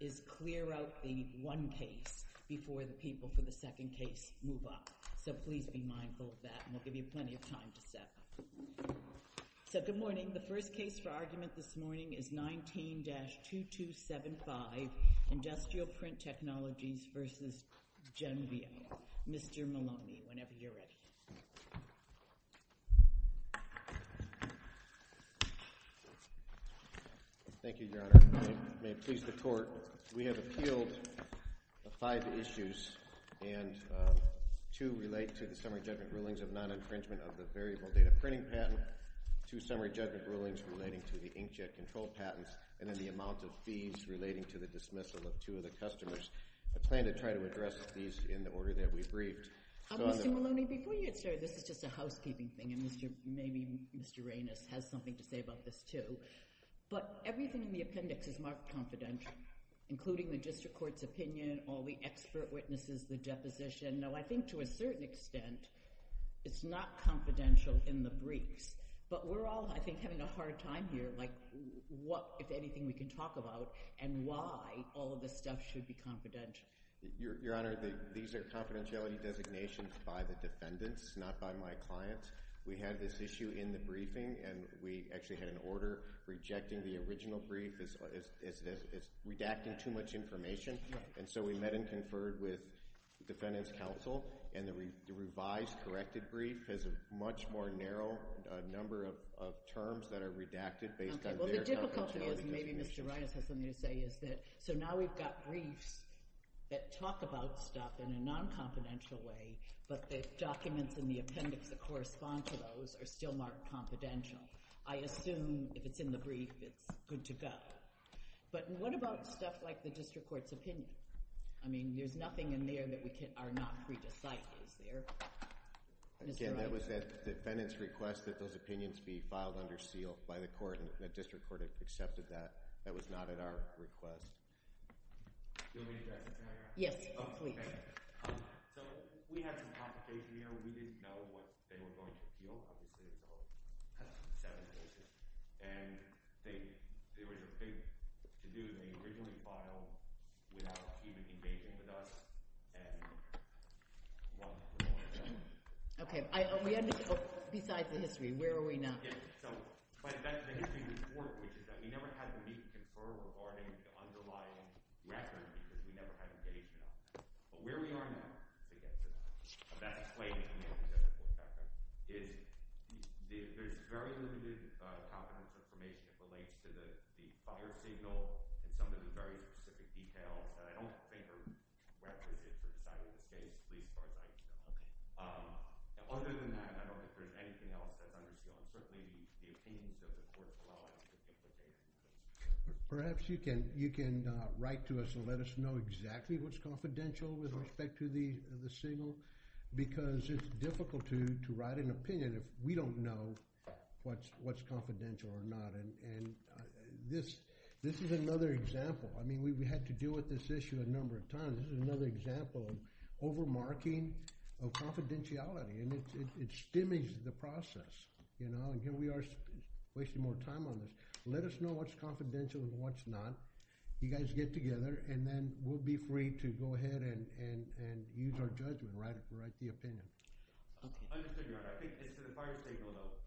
is clear out the one case before the people for the second case move up. So please be mindful of that and we'll give you plenty of time to set. So good morning. The first case for argument this morning is 19-2275 Industrial Print Technologies v. Cenveo. Mr. Maloney, whenever you're ready. Thank you, Your Honor. May it please the court. We have appealed the five issues and two relate to the summary judgment rulings of non-infringement of the variable data printing patent to summary judgment rulings relating to the inkjet control patents and then the amount of fees relating to the dismissal of two of the customers. I plan to try to address these in the order that we've briefed. Mr. Maloney, before you get started, this is just a housekeeping thing. And maybe Mr. Reynos has something to say about this too, but everything in the appendix is marked confidential, including the district court's opinion, all the expert witnesses, the deposition. Now, I think to a certain extent, it's not confidential in the briefs, but we're all, I think, having a hard time here. Like what, if anything we can talk about and why all of this stuff should be confidential. Your Honor, these are confidentiality designations by the defendants, not by my clients. We had this issue in the briefing and we actually had an order rejecting the original brief as redacting too much information. And so we met and conferred with the defendant's counsel and the revised corrected brief has a much more narrow number of terms that are redacted based on their confidentiality. Maybe Mr. Reynos has something to say is that, so now we've got briefs, that talk about stuff in a non-confidential way, but the documents in the appendix that correspond to those are still marked confidential. I assume if it's in the brief, it's good to go. But what about stuff like the district court's opinion? I mean, there's nothing in there that we can, are not free to cite, is there? Again, that was that defendant's request that those opinions be filed under seal by the court and the district court accepted that. That was not at our request. Yes, please. So we had some conversations, you know, we didn't know what they were going to do. And they, there was a thing to do. They originally filed without even engaging with us. Okay. I, besides the history, where are we now? Yes. So the history report, which is that we never had to meet and confer with our underlying records because we never had to get in touch. But where we are now to get to that, that explaining is there's very limited confidence information that relates to the fire signal and some of the very specific details. I don't think are references to the site of the case, please. Other than that, I don't know if there's anything else that's under seal. I'm just looking at the opinions of the court. Perhaps you can, write to us and let us know exactly what's confidential with respect to the, the signal, because it's difficult to, to write an opinion if we don't know what's, what's confidential or not. And, and this, this is another example. I mean, we had to deal with this issue a number of times. This is another example of over-marking of confidentiality and it's, it's diminished the process, you know, and here we are wasting more time on this. Let us know what's confidential and what's not. You guys get together and then we'll be free to go ahead and, and, and use our judgment, right? Write the opinion. Understood your honor. I think it's to the fire signal though,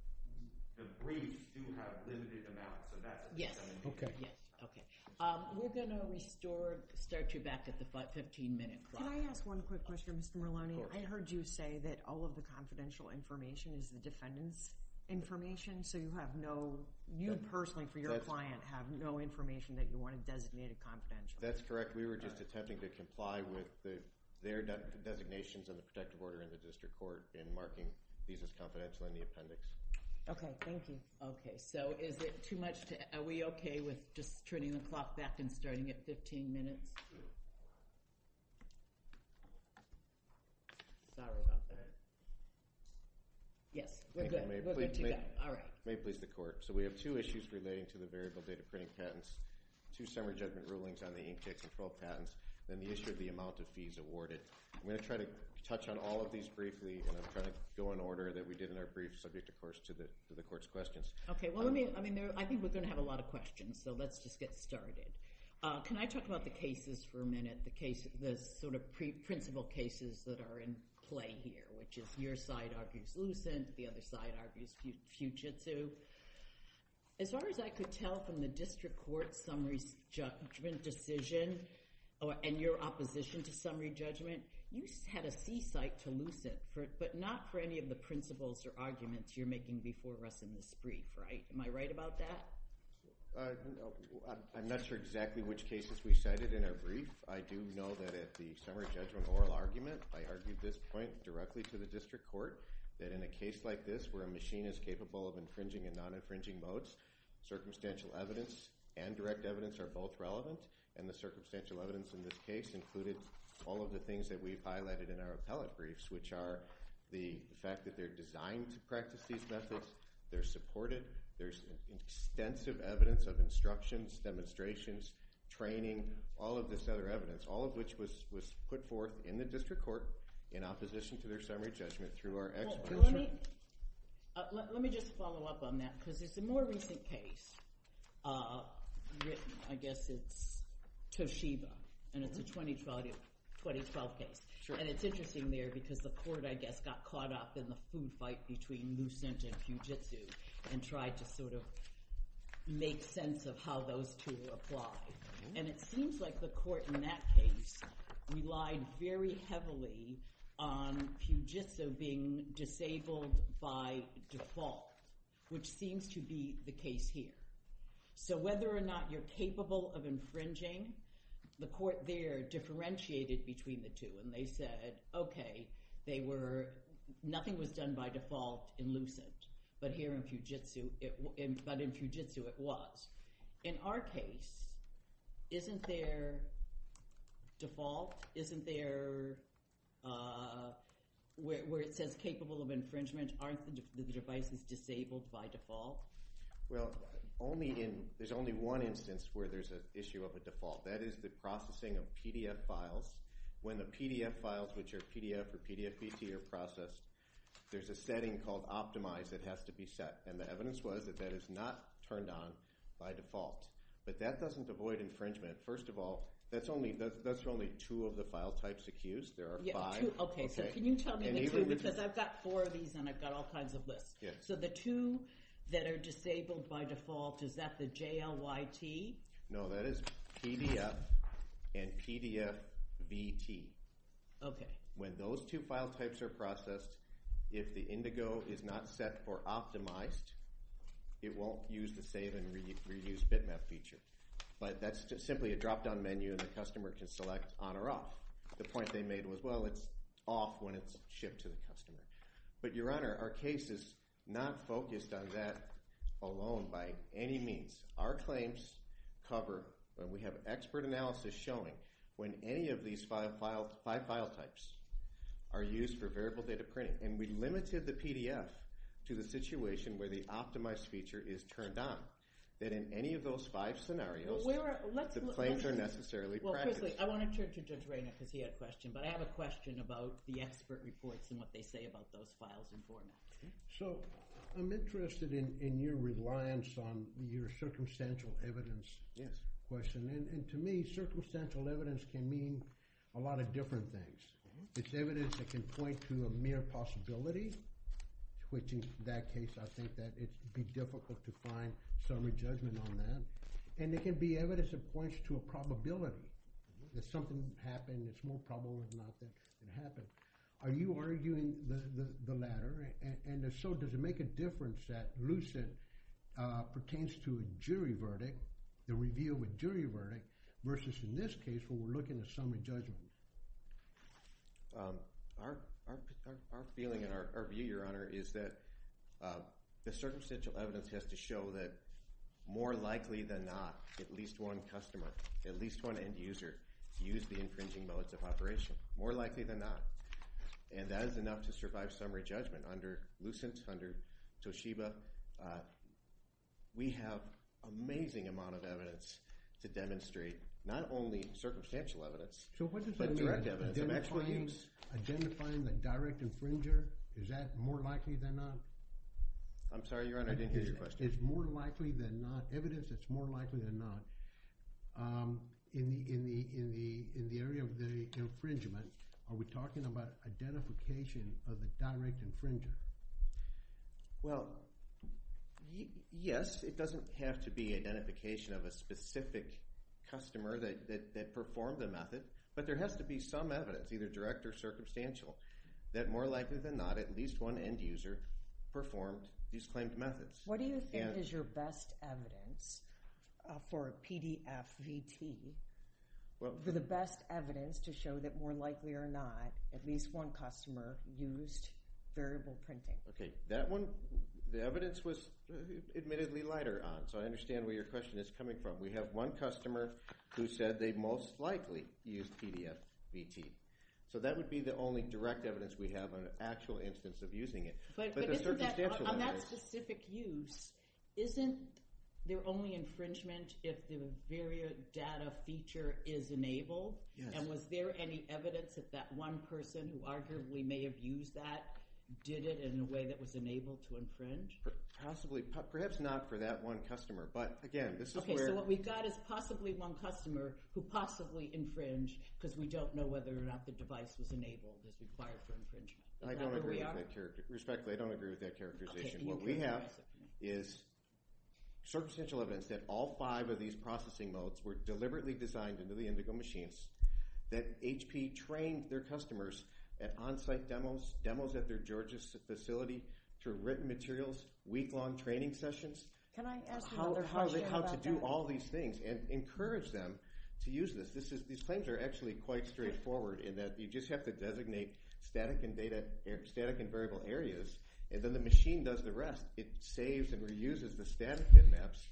the briefs do have limited amounts of that. Okay. Yeah. Okay. Um, we're going to restore, start you back at the 15 minute clock. Can I ask one quick question, Mr. Marloni? I heard you say that all of the confidential information is the defendant's information. So you have no, you personally for your client have no information that you want to designate a confidential. That's correct. We were just attempting to comply with the, their designations and the protective order in the district court and marking these as confidential in the appendix. Okay. Thank you. Okay. So is it too much to, are we okay with just turning the clock back and starting at 15 minutes? Sorry about that. Yes. We're good. We're good to go. All right. May please the court. So we have two issues relating to the variable data printing patents, two summer judgment rulings on the inkjet control patents, and the issue of the amount of fees awarded. I'm going to try to touch on all of these briefly and I'm trying to go in order that we did in our brief subject, of course, to the, to the court's questions. Okay. Well, let me, I mean, I think we're going to have a lot of questions, so let's just get started. Uh, can I talk about the cases for a minute? The case, the sort of pre principal cases that are in play here, which is your side argues lucent. The other side argues fugitive. As far as I could tell from the district court, summary judgment decision or, and your opposition to summary judgment, you had a seaside to lucent for it, but not for any of the principles or arguments you're making before us in this brief, right? Am I right about that? I'm not sure exactly which cases we cited in our brief. I do know that at the summary judgment oral argument, I argued this point directly to the district court that in a case like this, where a machine is capable of infringing and non infringing modes, circumstantial evidence and direct evidence are both relevant. And the circumstantial evidence in this case included all of the things that we've highlighted in our appellate briefs, which are the fact that they're designed to practice these methods. They're supported. There's extensive evidence of instructions, demonstrations, training, all of this other evidence, all of which was, was put forth in the district court in opposition to their summary judgment through our expert. Let me just follow up on that because there's a more recent case, uh, I guess it's Toshiba and it's a 2012, 2012 case. And it's interesting there because the court, I guess, got caught up in the food fight between Lucent and Fujitsu and tried to sort of make sense of how those two apply. And it seems like the court in that case relied very heavily on Fujitsu being disabled by default, which seems to be the case here. So whether or not you're capable of infringing, the court there differentiated between the two and they said, okay, they were, nothing was done by default in Lucent, but here in Fujitsu, but in Fujitsu it was. In our case, isn't there default? Isn't there, uh, where it says capable of infringement, aren't the devices disabled by default? Well, only in, there's only one instance where there's an issue of a default. That is the processing of PDF files. When the PDF files, which are PDF or PDF PC are processed, there's a setting called optimize that has to be set. And the evidence was that that is not turned on by default, but that doesn't avoid infringement. First of all, that's only, that's only two of the file types accused. There are five. Okay. So can you tell me the two, because I've got four of these and I've got all kinds of lists. So the two that are disabled by default, is that the JLYT? No, that is PDF and PDF VT. Okay. When those two file types are processed, if the Indigo is not set for optimized, it won't use the save and reuse bitmap feature, but that's just simply a dropdown menu and the customer can select on or off. The point they made was, well, it's off when it's shipped to the customer, but your honor, our case is not focused on that alone. By any means, our claims cover when we have expert analysis showing when any of these five files, five file types are used for variable data printing. And we limited the PDF to the situation where the optimized feature is turned on, that in any of those five scenarios, the claims are necessarily practiced. I want to turn to Judge Reyna because he had a question, but I have a question about the expert reports and what they say about those files and formats. So I'm interested in your reliance on your circumstantial evidence question. And to me, circumstantial evidence can mean a lot of different things. It's evidence that can point to a mere possibility, which in that case, I think that it'd be difficult to find summary judgment on that. And it can be evidence that points to a probability that something happened. It's more probable than not that it happened. Are you arguing the latter and so does it make a difference that Lucid pertains to a jury verdict, the review with jury verdict versus in this case when we're looking at summary judgment? Our, our, our, our feeling and our view, your honor, is that, uh, the circumstantial evidence has to show that more likely than not, at least one customer, at least one end user use the infringing modes of operation more likely than not. And that is enough to survive summary judgment under Lucent, under Toshiba. Uh, we have amazing amount of evidence to demonstrate not only circumstantial evidence, identifying the direct infringer. Is that more likely than not? I'm sorry, your honor. I didn't hear your question. It's more likely than not evidence. It's more likely than not. Um, in the, in the, in the, in the area of the infringement, are we talking about identification of the direct infringer? Well, yes, it doesn't have to be identification of a specific customer that, that, that performed the method, but there has to be some evidence, either direct or circumstantial, that more likely than not, at least one end user performed these claimed methods. What do you think is your best evidence, uh, for a PDF VT? Well, for the best evidence to show that more likely or not, at least one customer used variable printing. Okay. That one, the evidence was admittedly lighter on. So I understand where your question is coming from. We have one customer who said they most likely used PDF VT. So that would be the only direct evidence we have on an actual instance of using it. But on that specific use, isn't there only infringement if the variable data feature is enabled and was there any evidence that that one person who arguably may have used that, did it in a way that was enabled to infringe? Possibly, perhaps not for that one customer, but again, this is where. So what we've got is possibly one customer who possibly infringed because we don't know whether or not the device was enabled as required for infringement. I don't agree with that character. Respectfully, I don't agree with that characterization. What we have is circumstantial evidence that all five of these processing modes were deliberately designed into the Indigo machines, that HP trained their customers at onsite demos, demos at their Georgia facility through written materials, week-long training sessions. Can I ask you another question about that? How to do all these things and encourage them to use this. These claims are actually quite straightforward in that you just have to designate static and variable areas, and then the machine does the rest. It saves and reuses the static bitmaps.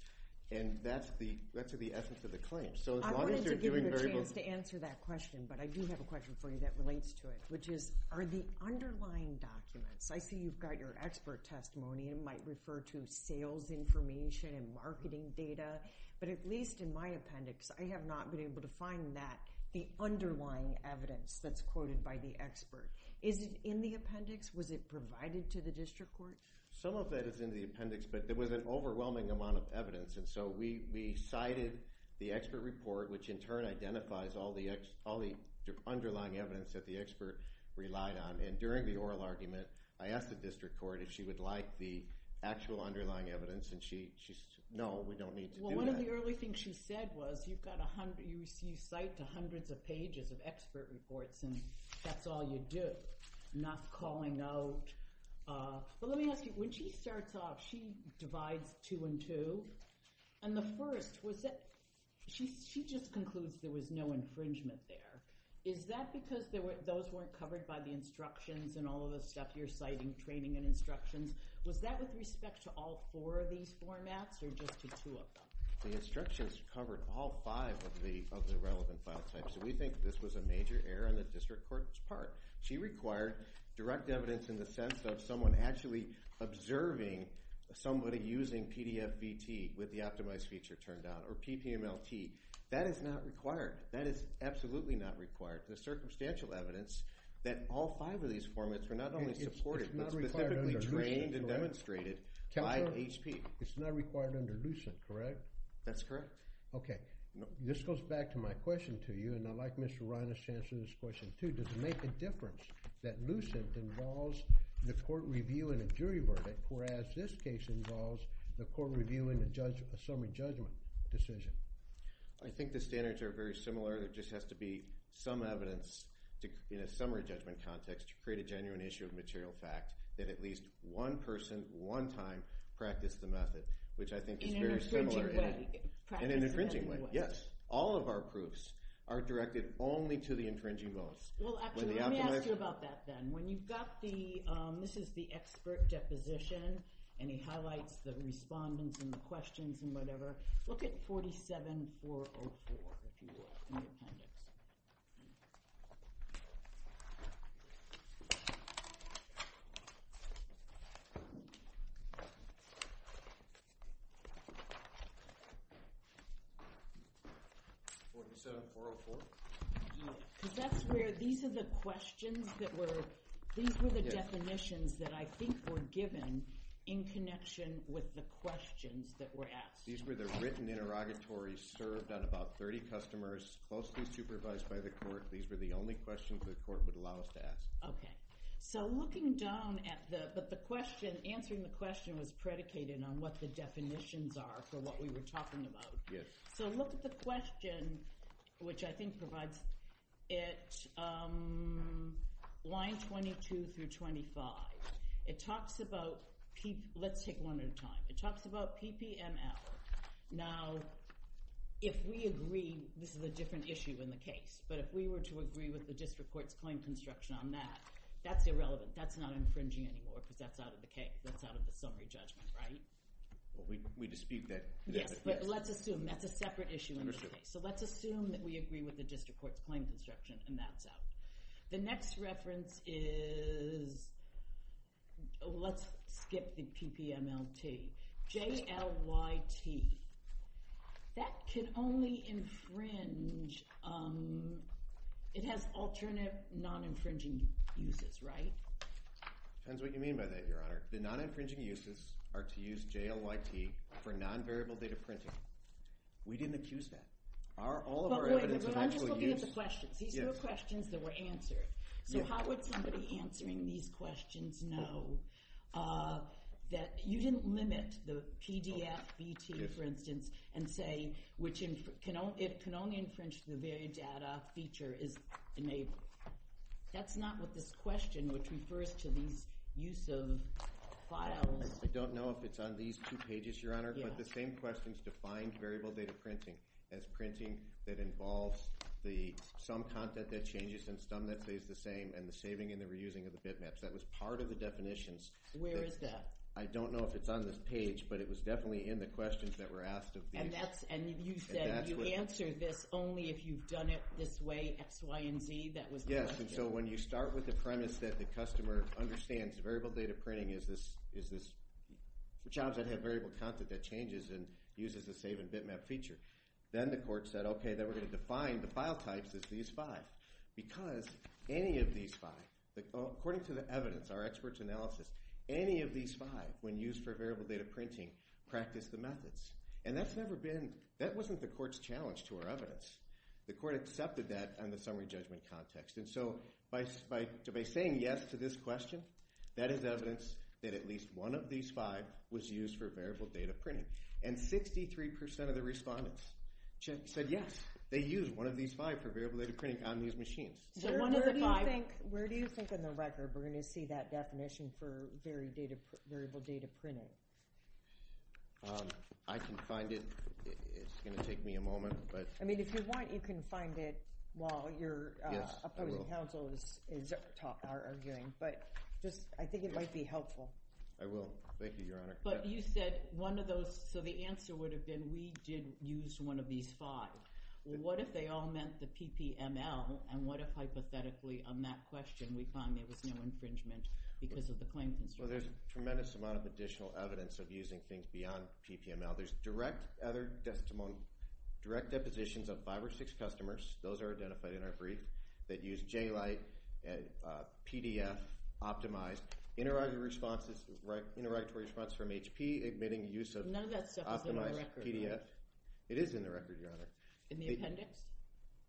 And that's the essence of the claim. So as long as you're doing variable... I wanted to give you a chance to answer that question, but I do have a question for you that relates to it, which is are the underlying documents, I see you've got your expert testimony and might refer to sales information and marketing data, but at least in my appendix, I have not been able to find that the underlying evidence that's quoted by the expert. Is it in the appendix? Was it provided to the district court? Some of that is in the appendix, but there was an overwhelming amount of evidence. And so we cited the expert report, which in turn identifies all the underlying evidence that the expert relied on. And during the oral argument, I asked the district court if she would like the actual underlying evidence. And she said, no, we don't need to do that. Well, one of the early things she said was you've got a hundred, you cite the hundreds of pages of expert reports and that's all you do. Not calling out. But let me ask you, when she starts off, she divides two and two. And the first was that she, she just concludes there was no infringement there. Is that because there were those weren't covered by the instructions and all of the stuff you're citing training and instructions? Was that with respect to all four of these formats or just to two of them? The instructions covered all five of the, of the relevant file types. So we think this was a major error on the district court's part. She required direct evidence in the sense of someone actually observing somebody using PDF BT with the optimized feature turned down or PPMLT. That is not required. That is absolutely not required. The circumstantial evidence that all five of these formats were not only supported, not specifically trained and demonstrated by HP. It's not required under Lucent, correct? That's correct. Okay. This goes back to my question to you. And I like Mr. Reiner's chance to this question too, does it make a difference that Lucent involves the court review in a jury verdict? Whereas this case involves the court review in the judge, a summary judgment decision. I think the standards are very similar. There just has to be some evidence in a summary judgment context to create a genuine issue of material fact that at least one person, one time, practice the method, which I think is very similar in an infringing way. Yes. All of our proofs are directed only to the infringing most. Well, actually, let me ask you about that. Then when you've got the, um, this is the expert deposition and he highlights the respondents and the jury and whatever, look at 47404 if you will, in the appendix. 47404? Because that's where, these are the questions that were, these were the definitions that I think were given in connection with the court. These were the written interrogatories served on about 30 customers, mostly supervised by the court. These were the only questions that the court would allow us to ask. Okay. So looking down at the, but the question, answering the question was predicated on what the definitions are for what we were talking about. Yes. So look at the question, which I think provides it, um, line 22 through 25. It talks about, let's take one at a time. It talks about PPML. Now, if we agree, this is a different issue in the case, but if we were to agree with the district court's claim construction on that, that's irrelevant. That's not infringing anymore because that's out of the case. That's out of the summary judgment, right? We dispute that. Yes, but let's assume that's a separate issue in this case. So let's assume that we agree with the district court's claim construction and that's out. The next reference is, let's skip the PPML-T. J-L-Y-T. That can only infringe, um, it has alternative non-infringing uses, right? Depends what you mean by that, Your Honor. The non-infringing uses are to use J-L-Y-T for non-variable data printing. We didn't accuse that. Our, all of our evidence of actual use... I'm just looking at the questions. These were questions that were answered. So how would somebody answering these questions know, uh, that you didn't limit the PDF-BT, for instance, and say which can only infringe the very data feature is enabled. That's not what this question, which refers to these use of files. I don't know if it's on these two pages, Your Honor, but the same question is defined variable data printing as printing that changes and some that stays the same and the saving and the reusing of the bitmaps. That was part of the definitions. Where is that? I don't know if it's on this page, but it was definitely in the questions that were asked of these. And that's, and you said, you answered this only if you've done it this way, X, Y, and Z. That was the question. So when you start with the premise that the customer understands variable data printing is this, is this the jobs that have variable content that changes and uses the save and bitmap feature. Then the court said, okay, then we're going to define the file types as these five because any of these five, according to the evidence, our experts analysis, any of these five when used for variable data printing, practice the methods. And that's never been, that wasn't the court's challenge to our evidence. The court accepted that on the summary judgment context. And so by saying yes to this question, that is evidence that at least one of these five was used for variable data printing. And 63% of the respondents said yes. They use one of these five for variable data printing on these machines. Where do you think in the record, we're going to see that definition for variable data printing? I can find it. It's going to take me a moment, but I mean, if you want, you can find it while your opposing counsel is arguing, but just, I think it might be helpful. I will. Thank you, Your Honor. But you said one of those. So the answer would have been, we did use one of these five. What if they all meant the PPML and what if hypothetically on that question, we find there was no infringement because of the claim. Well, there's a tremendous amount of additional evidence of using things beyond PPML. There's direct other testimonial, direct depositions of five or six customers. Those are identified in our brief that use J-Lite, PDF, optimized, interrogatory responses, right. Interrogatory response from HP admitting use of PDF. It is in the record, Your Honor. In the appendix?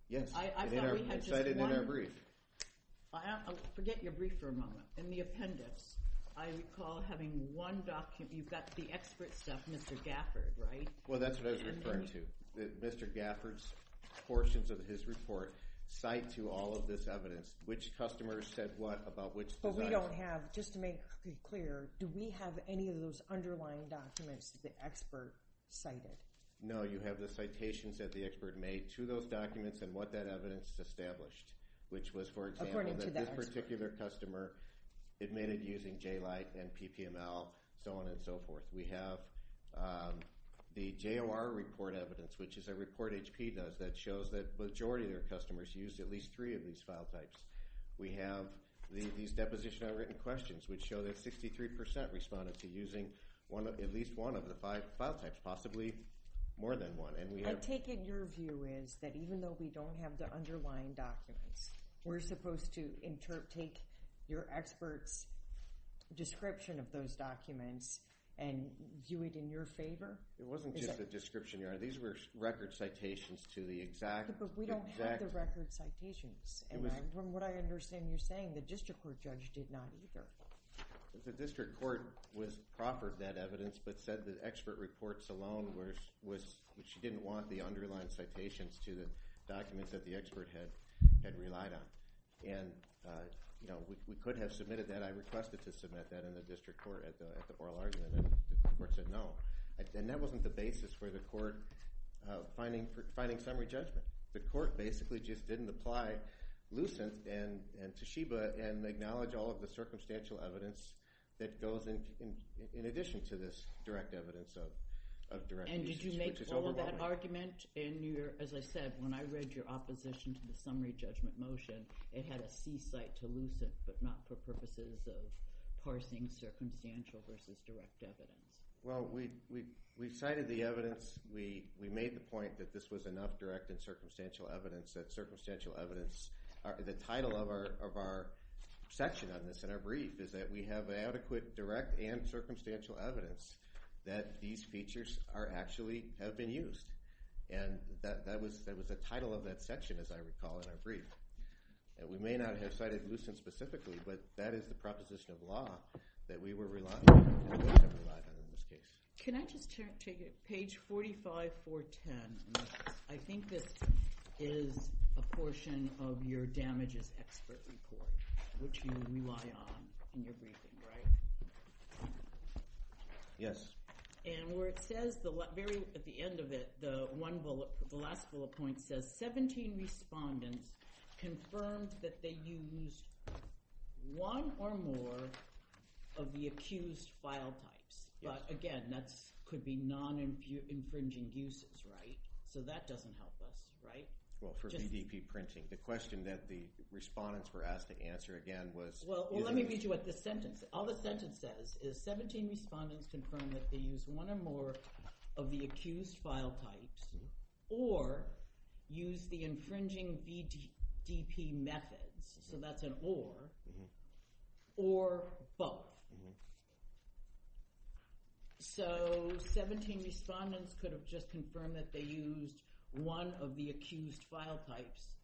Yes. I thought we had just one. It's cited in our brief. I'll forget your brief for a moment. In the appendix, I recall having one document. You've got the expert stuff, Mr. Gafford, right? Well, that's what I was referring to. Mr. Gafford's portions of his report cite to all of this evidence, which customers said what about which. But we don't have, just to make clear, do we have any of those underlying documents that the expert cited? No, you have the citations that the expert made to those documents and what that evidence established, which was, for example, that this particular customer admitted using J-Lite and PPML, so on and so forth. We have the JOR report evidence, which is a report HP does that shows that majority of their customers use at least three of these file types. We have these deposition of written questions, which show that 63% responded to using at least one of the five file types, possibly more than one. I take it your view is that even though we don't have the underlying documents, we're supposed to interpret, take your expert's description of those documents and do it in your favor? It wasn't just a description. These were record citations to the exact. But we don't have the record citations. And from what I understand you're saying, the district court judge did not either. The district court was proper to that evidence, but said that expert reports alone was, which she didn't want the underlying citations to the documents that the expert had relied on. And, you know, we could have submitted that. I requested to submit that in the district court at the oral argument. And the court said no. And that wasn't the basis for the court finding summary judgment. The court basically just didn't apply lucent. And Toshiba and acknowledge all of the circumstantial evidence that goes in, in addition to this direct evidence of, of direct. And did you make all of that argument in New York? As I said, when I read your opposition to the summary judgment motion, it had a C site to lucent, but not for purposes of parsing circumstantial versus direct evidence. Well, we, we, we cited the evidence. We, we made the point that this was enough direct and circumstantial evidence that circumstantial evidence are the title of our, of our section on this and our brief is that we have adequate direct and circumstantial evidence that these features are actually have been used. And that, that was, that was the title of that section. As I recall in our brief that we may not have cited lucent specifically, but that is the proposition of law that we were relying on. Can I just take a page 45 for 10? I think this is a portion of your damages expert report, which you rely on in your briefing, right? Yes. And where it says the very, at the end of it, the one bullet, the last bullet point says 17 respondents confirmed that they used one or more of the accused file types. But again, that's could be non-infringing uses, right? So that doesn't help us, right? Well, for BDP printing, the question that the respondents were asked to answer again was, well, let me read you what the sentence, all the sentence says is 17 respondents confirmed that they use one or more of the accused file types or use the infringing BDP methods. So that's an or, or both. Mm hmm. So 17 respondents could have just confirmed that they used one of the accused file types,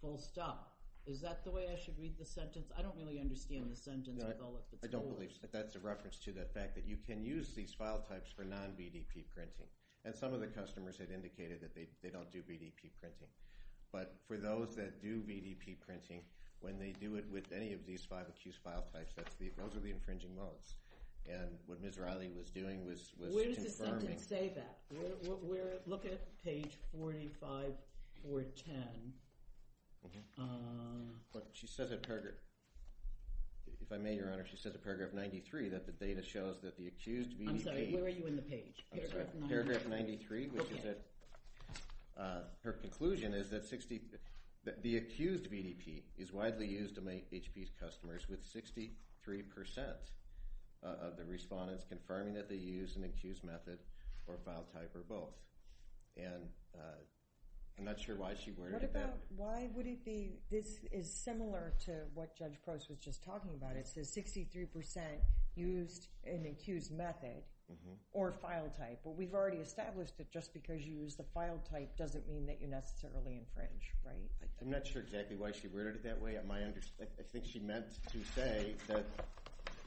full stop. Is that the way I should read the sentence? I don't really understand the sentence. I don't believe that that's a reference to the fact that you can use these file types for non BDP printing. And some of the customers had indicated that they don't do BDP printing, but for those that do BDP printing, when they do it with any of these five accused file types, that's the, those are the infringing modes. And what Ms. Riley was doing was, was, where does the sentence say that we're looking at page 45 or 10. But she says it, if I may, Your Honor, she says a paragraph 93 that the data shows that the accused BDP, I'm sorry, where are you in the page? Paragraph 93, which is that her conclusion is that 60, that the accused BDP is widely used to make HP's customers with 63% of the respondents confirming that they use an accused method or file type or both. And I'm not sure why she worried about it. Why would it be? This is similar to what Judge Gross was just talking about. It says 63% used an accused method or file type, but we've already established that just because you use the file type doesn't mean that you're necessarily infringed, right? I'm not sure exactly why she worded it that way. At my understanding, I think she meant to say that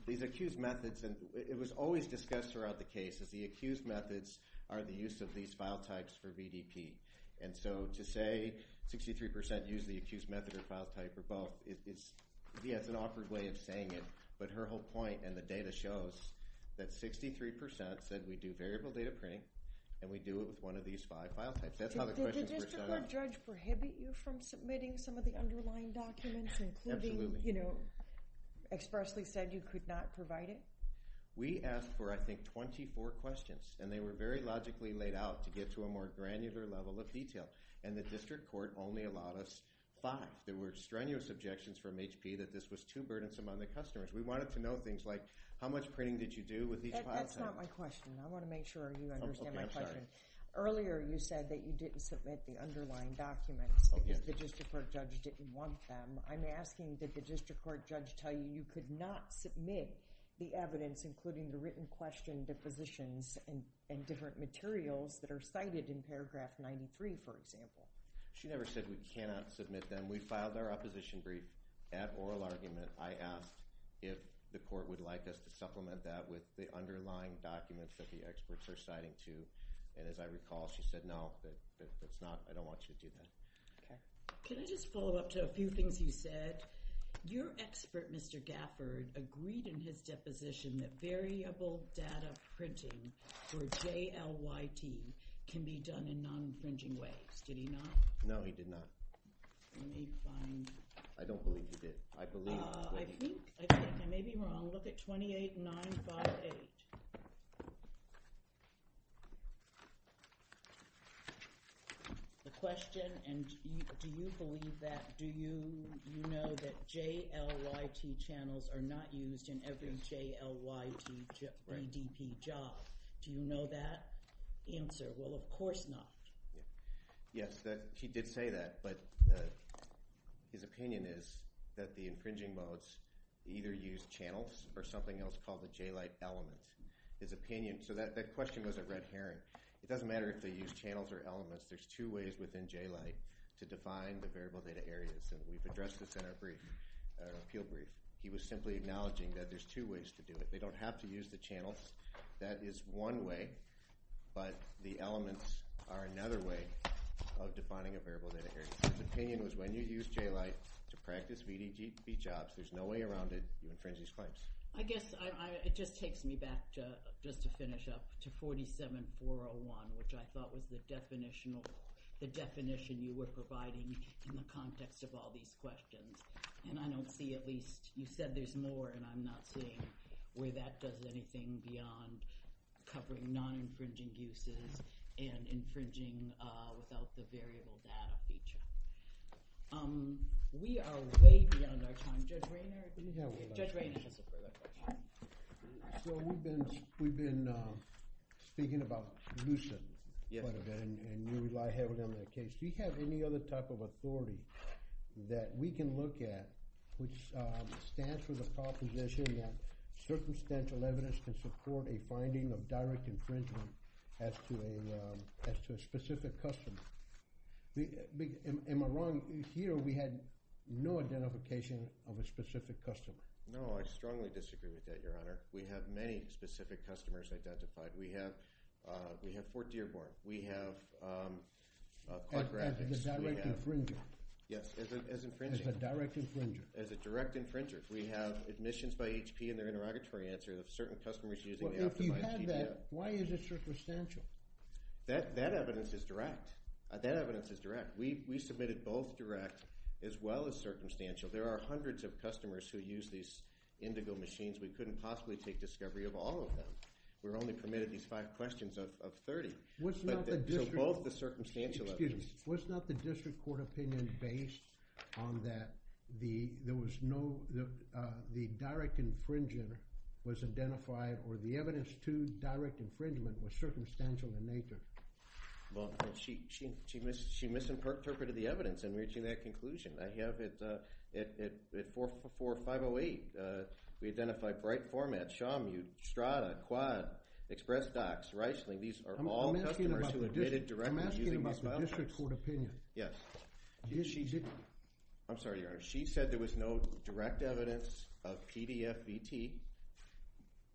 these accused methods, and it was always discussed throughout the cases, the accused methods are the use of these file types for BDP. And so to say 63% use the accused method or file type or both, it's, yeah, it's an awkward way of saying it, but her whole point and the data shows that 63% said we do variable data printing and we do it with one of these five file types. Did the district court judge prohibit you from submitting some of the underlying documents, including, you know, expressly said you could not provide it? We asked for, I think, 24 questions and they were very logically laid out to get to a more granular level of detail. And the district court only allowed us five. There were strenuous objections from HP that this was too burdensome on the customers. We wanted to know things like how much printing did you do with each file type? That's not my question. I want to make sure you understand my question. Earlier, you said that you didn't submit the underlying documents because the district court judge didn't want them. I'm asking that the district court judge tell you you could not submit the evidence, including the written question depositions and different materials that are cited in paragraph 93, for example. She never said we cannot submit them. We filed our opposition brief at oral argument. I asked if the court would like us to supplement that with the underlying documents that the experts are citing to. And as I recall, she said, no, that's not, I don't want you to do that. Can I just follow up to a few things you said? Your expert, Mr. Gafford agreed in his deposition that variable data printing for JLYT can be done in non-infringing ways. Did he not? No, he did not. I don't believe he did. I think I may be wrong. Look at 28-958. The question, and do you believe that, do you know that JLYT channels are not used in every JLYT EDP job? Do you know that answer? Well, of course not. Yes, he did say that, but his opinion is that the infringing modes either use channels or something else called the JLYT elements. His opinion, so that question was a red herring. It doesn't matter if they use channels or elements. There's two ways within JLYT to define the variable data areas. And we've addressed this in our brief, our appeal brief. He was simply acknowledging that there's two ways to do it. They don't have to use the channels. That is one way, but the elements are another way of defining a variable data area. His opinion was when you use JLYT to practice VDP jobs, there's no way around it. You infringe these claims. I guess it just takes me back to just to finish up to 47-401, which I thought was the definition you were providing in the context of all these questions. And I don't see at least, you said there's more, and I'm not seeing where that does anything beyond covering non-infringing uses and infringing without the variable data feature. We are way beyond our time. Judge Rainer has a further point. So we've been speaking about LUCID quite a bit and you rely heavily on that case. Do you have any other type of authority that we can look at which stands for the proposition that circumstantial evidence can support a finding of direct infringement as to a specific customer? Am I wrong? Here, we had no identification of a specific customer. No, I strongly disagree with that, your honor. We have many specific customers identified. We have, uh, we have Fort Dearborn. We have, um, uh, yes, as a, as a direct infringer, as a direct infringer. We have admissions by HP and their interrogatory answers of certain customers using that. Why is it circumstantial? That, that evidence is direct. That evidence is direct. We, we submitted both direct as well as circumstantial. There are hundreds of customers who use these indigo machines. We couldn't possibly take discovery of all of them. We're only permitted these five questions of 30. What's not the district, both the circumstantial evidence, what's not the district court opinion based on that? The, there was no, the, uh, the direct infringer was identified or the evidence to direct infringement was circumstantial in nature. Well, she, she, she missed, she misinterpreted the evidence and reaching that conclusion. I have it, uh, it, it, it for four or five Oh eight. Uh, we identify bright format, Shawmut, Strada, Quad, Express Docs, Reisling. These are all customers who admitted directly using my district court opinion. Yes. I'm sorry, your honor. She said there was no direct evidence of PDF VT,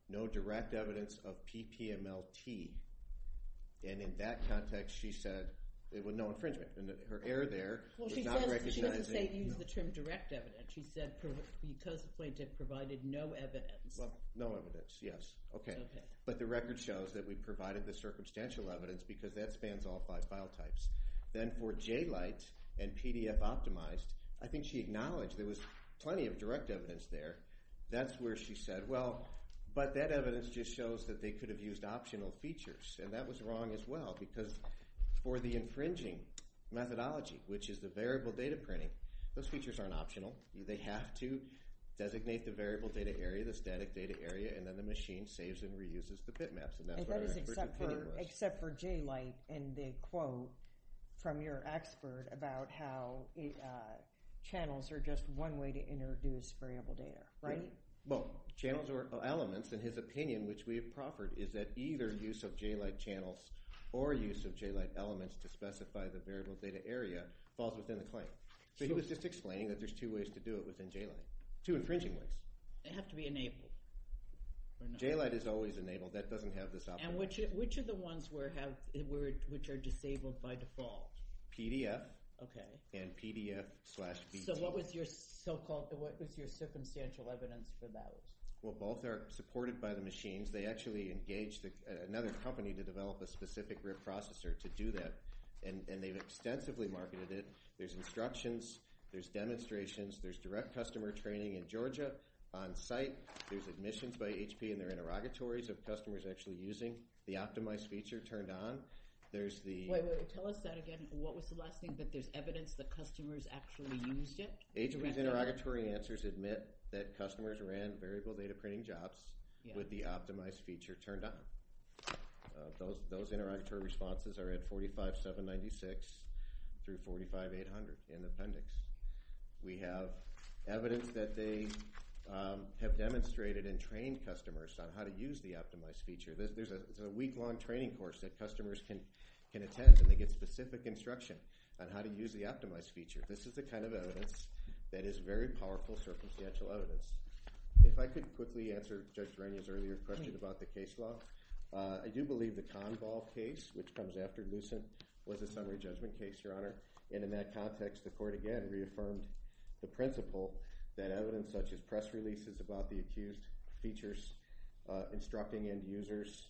no direct evidence of PPML T and in that context, she said it was no infringement and that her air there, well she's not recognizing the term direct evidence. She said because the plaintiff provided no evidence, no evidence. Yes. Okay. But the record shows that we provided the circumstantial evidence because that spans all five file types. Then for J light and PDF optimized, I think she acknowledged there was plenty of direct evidence there. That's where she said, well, but that evidence just shows that they could have used optional features and that was wrong as well because for the infringing methodology, which is the variable data printing, those features aren't optional. They have to designate the variable data area, the static data area, and then the machine saves and reuses the bitmaps. Except for J light and the quote from your expert about how it, channels are just one way to introduce variable data, right? Well, channels or elements in his opinion, which we have proffered is that either use of J light channels or use of J light elements to specify the variable data area falls within the claim. So he was just explaining that there's two ways to do it within J light, two infringing ways. They have to be enabled. J light is always enabled. That doesn't have this. And which, which are the ones where have, which are disabled by default? PDF and PDF slash. So what was your so-called, what was your circumstantial evidence for that? Well, both are supported by the machines. They actually engaged another company to develop a specific rib processor to do that. And they've extensively marketed it. There's instructions, there's demonstrations, there's direct customer training in Georgia on site. There's admissions by HP and their interrogatories of customers actually using the optimized feature turned on. There's the, tell us that again. What was the last thing, but there's evidence that customers actually used it. Agents interrogatory answers, admit that customers ran variable data printing jobs with the optimized feature turned on those, those interrogatory responses are at 45, seven 96 through 45, 800 in the appendix. We have evidence that they have demonstrated and trained customers on how to use the optimized feature. There's a week long training course that customers can, can attend and they get specific instruction on how to use the optimized feature. This is the kind of evidence that is very powerful circumstantial evidence. If I could quickly answer Judge Rainier's earlier question about the case law. I do believe the Convol case, which comes after Lucent was a summary judgment case, Your Honor. And in that context, the court again reaffirmed the principle that evidence such as press releases about the accused features, instructing end users,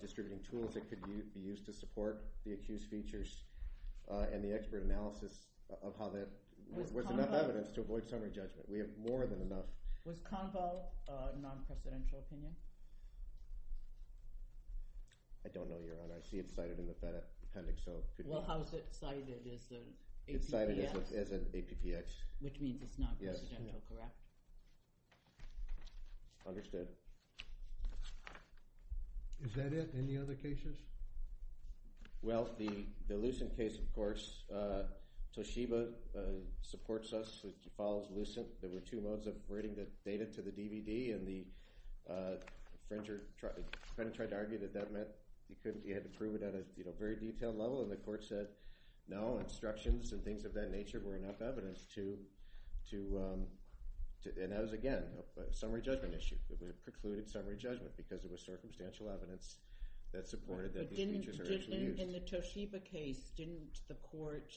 distributing tools that could be used to support the accused features and the expert analysis of how that was enough evidence to avoid summary judgment. We have more than enough. Was Convol a non-presidential opinion? I don't know, Your Honor. I see it's cited in the appendix. So how is it cited as an APPX? Which means it's not presidential, correct? Understood. Is that it? Any other cases? Well, the, the Lucent case, of course, uh, Toshiba supports us, which follows Lucent. There were two modes of writing the data to the DVD and the, uh, French tried to argue that that meant you couldn't, you had to prove it at a, you know, very detailed level. And the court said no instructions and things of that nature were enough evidence to, to, um, to, and that was again, a summary judgment issue that we had precluded summary judgment because it was circumstantial evidence that supported that. In the Toshiba case, didn't the court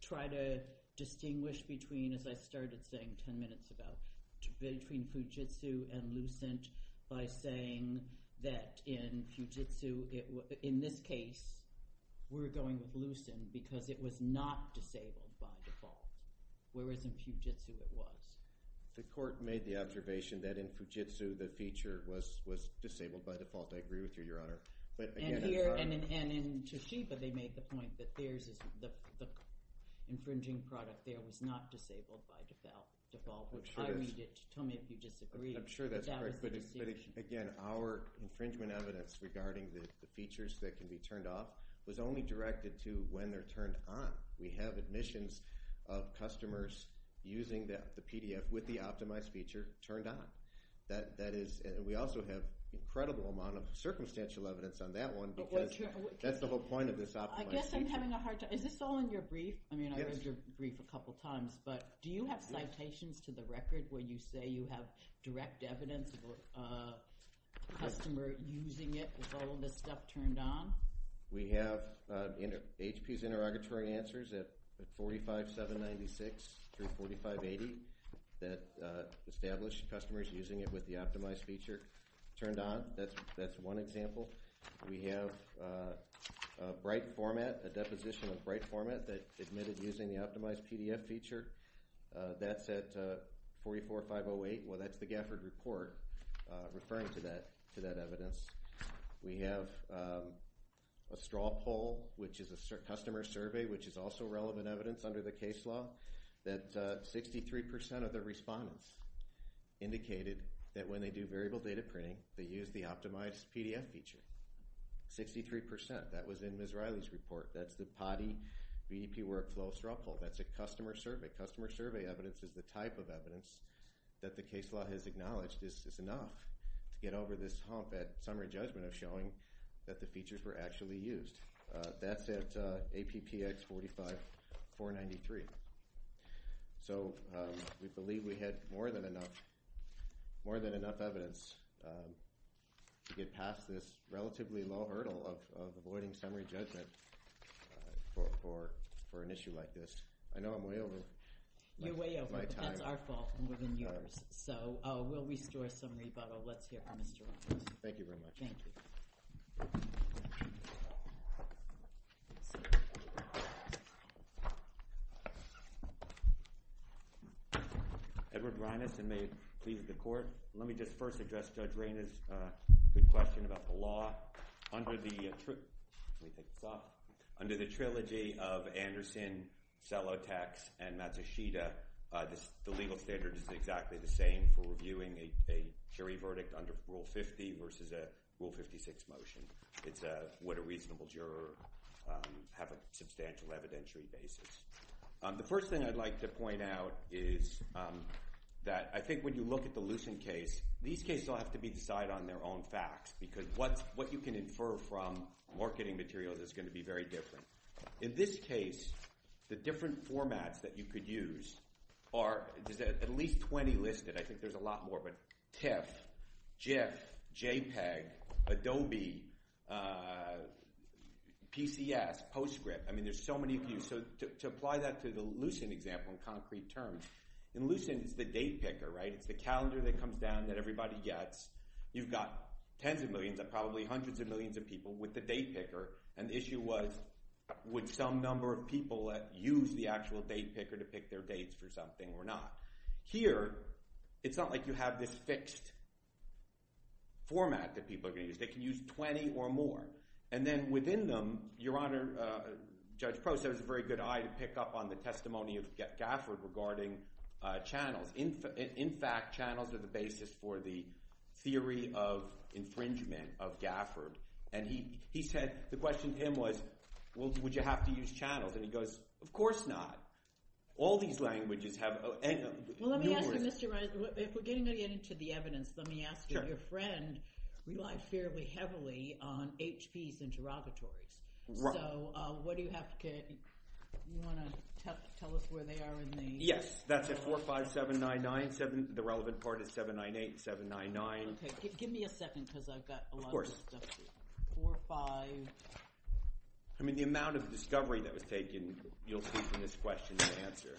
try to distinguish between, as I started saying 10 minutes ago, between Fujitsu and Lucent by saying that in Fujitsu, it, in this case, we're going with Lucent because it was not disabled by default, whereas in Fujitsu it was. The court made the observation that in Fujitsu, the feature was, was disabled by default. I agree with you, your honor. And in Toshiba, they made the point that theirs is the infringing product there was not disabled by default, which I read it. Tell me if you disagree. I'm sure that's correct. But again, our infringement evidence regarding the features that can be turned off was only directed to when they're turned on. We have admissions of customers using that, the PDF with the optimized feature turned on. That, that is, we also have incredible amount of circumstantial evidence on that one, because that's the whole point of this. I guess I'm having a hard time. Is this all in your brief? I mean, I read your brief a couple of times, but do you have citations to the record where you say you have direct evidence of a customer using it with all of this stuff turned on? We have HP's interrogatory answers at 45, 796 through 4580 that established customers using it with the optimized feature turned on. That's, that's one example. We have a bright format, a deposition of bright format that admitted using the optimized PDF feature. That's at 44, 508. Well, that's the Gafford report. Referring to that, to that evidence. We have a straw poll, which is a customer survey, which is also relevant evidence under the case law that 63% of the respondents indicated that when they do variable data printing, they use the optimized PDF feature. 63%. That was in Ms. Riley's report. That's the POTI BDP workflow straw poll. That's a customer survey. Customer survey evidence is the type of evidence that the case law has acknowledged this is enough to get over this hump at summary judgment of showing that the features were actually used. That's at APPX 45, 493. So we believe we had more than enough, more than enough evidence to get past this relatively low hurdle of avoiding summary judgment for, for, for an issue like this. I know I'm way over. You're way over, but that's our fault more than yours. So we'll restore some rebuttal. Let's hear from Mr. Rogers. Thank you very much. Edward Reines, and may it please the court. Let me just first address Judge Reyna's question about the law under the, under the trilogy of Anderson, Selotex, and Matsushita. This, the legal standard is exactly the same for reviewing a jury verdict under rule 50 versus a rule 56 motion. It's a, what a reasonable juror have a substantial evidentiary basis. The first thing I'd like to point out is that I think when you look at the Lucent case, these cases all have to be decided on their own facts because what's, what you can infer from marketing materials is going to be very different. In this case, the different formats that you could use are at least 20 listed. I think there's a lot more, but TIFF, JIF, JPEG, Adobe, PCS, Postscript. I mean, there's so many of you. So to apply that to the Lucent example in concrete terms, in Lucent it's the date picker, right? It's the calendar that comes down that everybody gets. You've got tens of millions of probably hundreds of millions of people with the date picker. And the issue was would some number of people use the actual date picker to pick their dates for something or not? Here, it's not like you have this fixed format that people are going to use. They can use 20 or more. And then within them, Your Honor, Judge Prost has a very good eye to pick up on the testimony of Gafford regarding channels. In fact, channels are the basis for the theory of infringement of Gafford. And he said, the question to him was, well, would you have to use channels? And he goes, of course not. All these languages have... Well, let me ask you, Mr. Reiser, if we're getting into the evidence, let me ask you, your friend relied fairly heavily on HP's interrogatories. So what do you have to, you want to tell us where they are in the... Yes, that's at 45799. The relevant part is 798, 799. Okay. Give me a second because I've got a lot of stuff to do. Of course. I mean, the amount of discovery that was taken, you'll see from this question, the answer,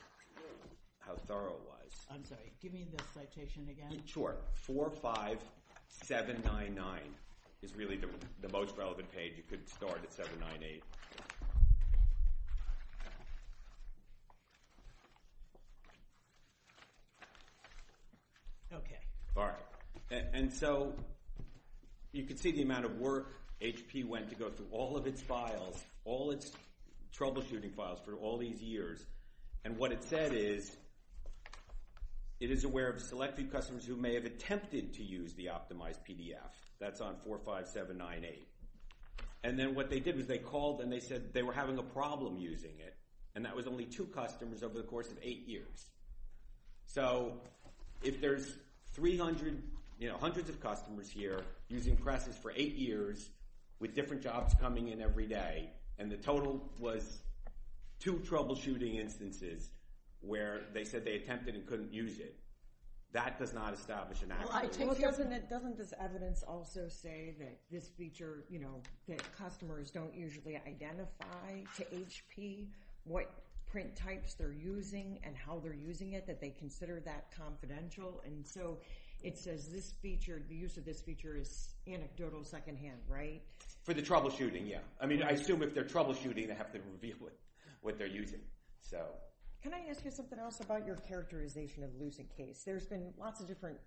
how thorough it was. I'm sorry. Give me the citation again. Sure. 45799 is really the most relevant page. You could start at 798. Okay. All right. And so you can see the amount of work HP went to go through all of its files, all its troubleshooting files for all these years. And what it said is it is aware of select few customers who may have attempted to use the optimized PDF. That's on 45798. And then what they did was they called and they said they were having a problem using it. And that was only two customers over the course of eight years. So if there's 300, you know, hundreds of customers here using presses for eight years with different jobs coming in every day. And the total was two troubleshooting instances where they said they attempted and couldn't use it. That does not establish an accurate. Doesn't this evidence also say that this feature, you know, that customers don't usually identify to HP what print types they're using and how they're using it, that they consider that confidential. And so it says this feature, the use of this feature is anecdotal secondhand, right? For the troubleshooting. Yeah. I mean, I assume if they're troubleshooting, they have to reveal it, what they're using. So can I ask you something else about your characterization of losing case? There's been lots of different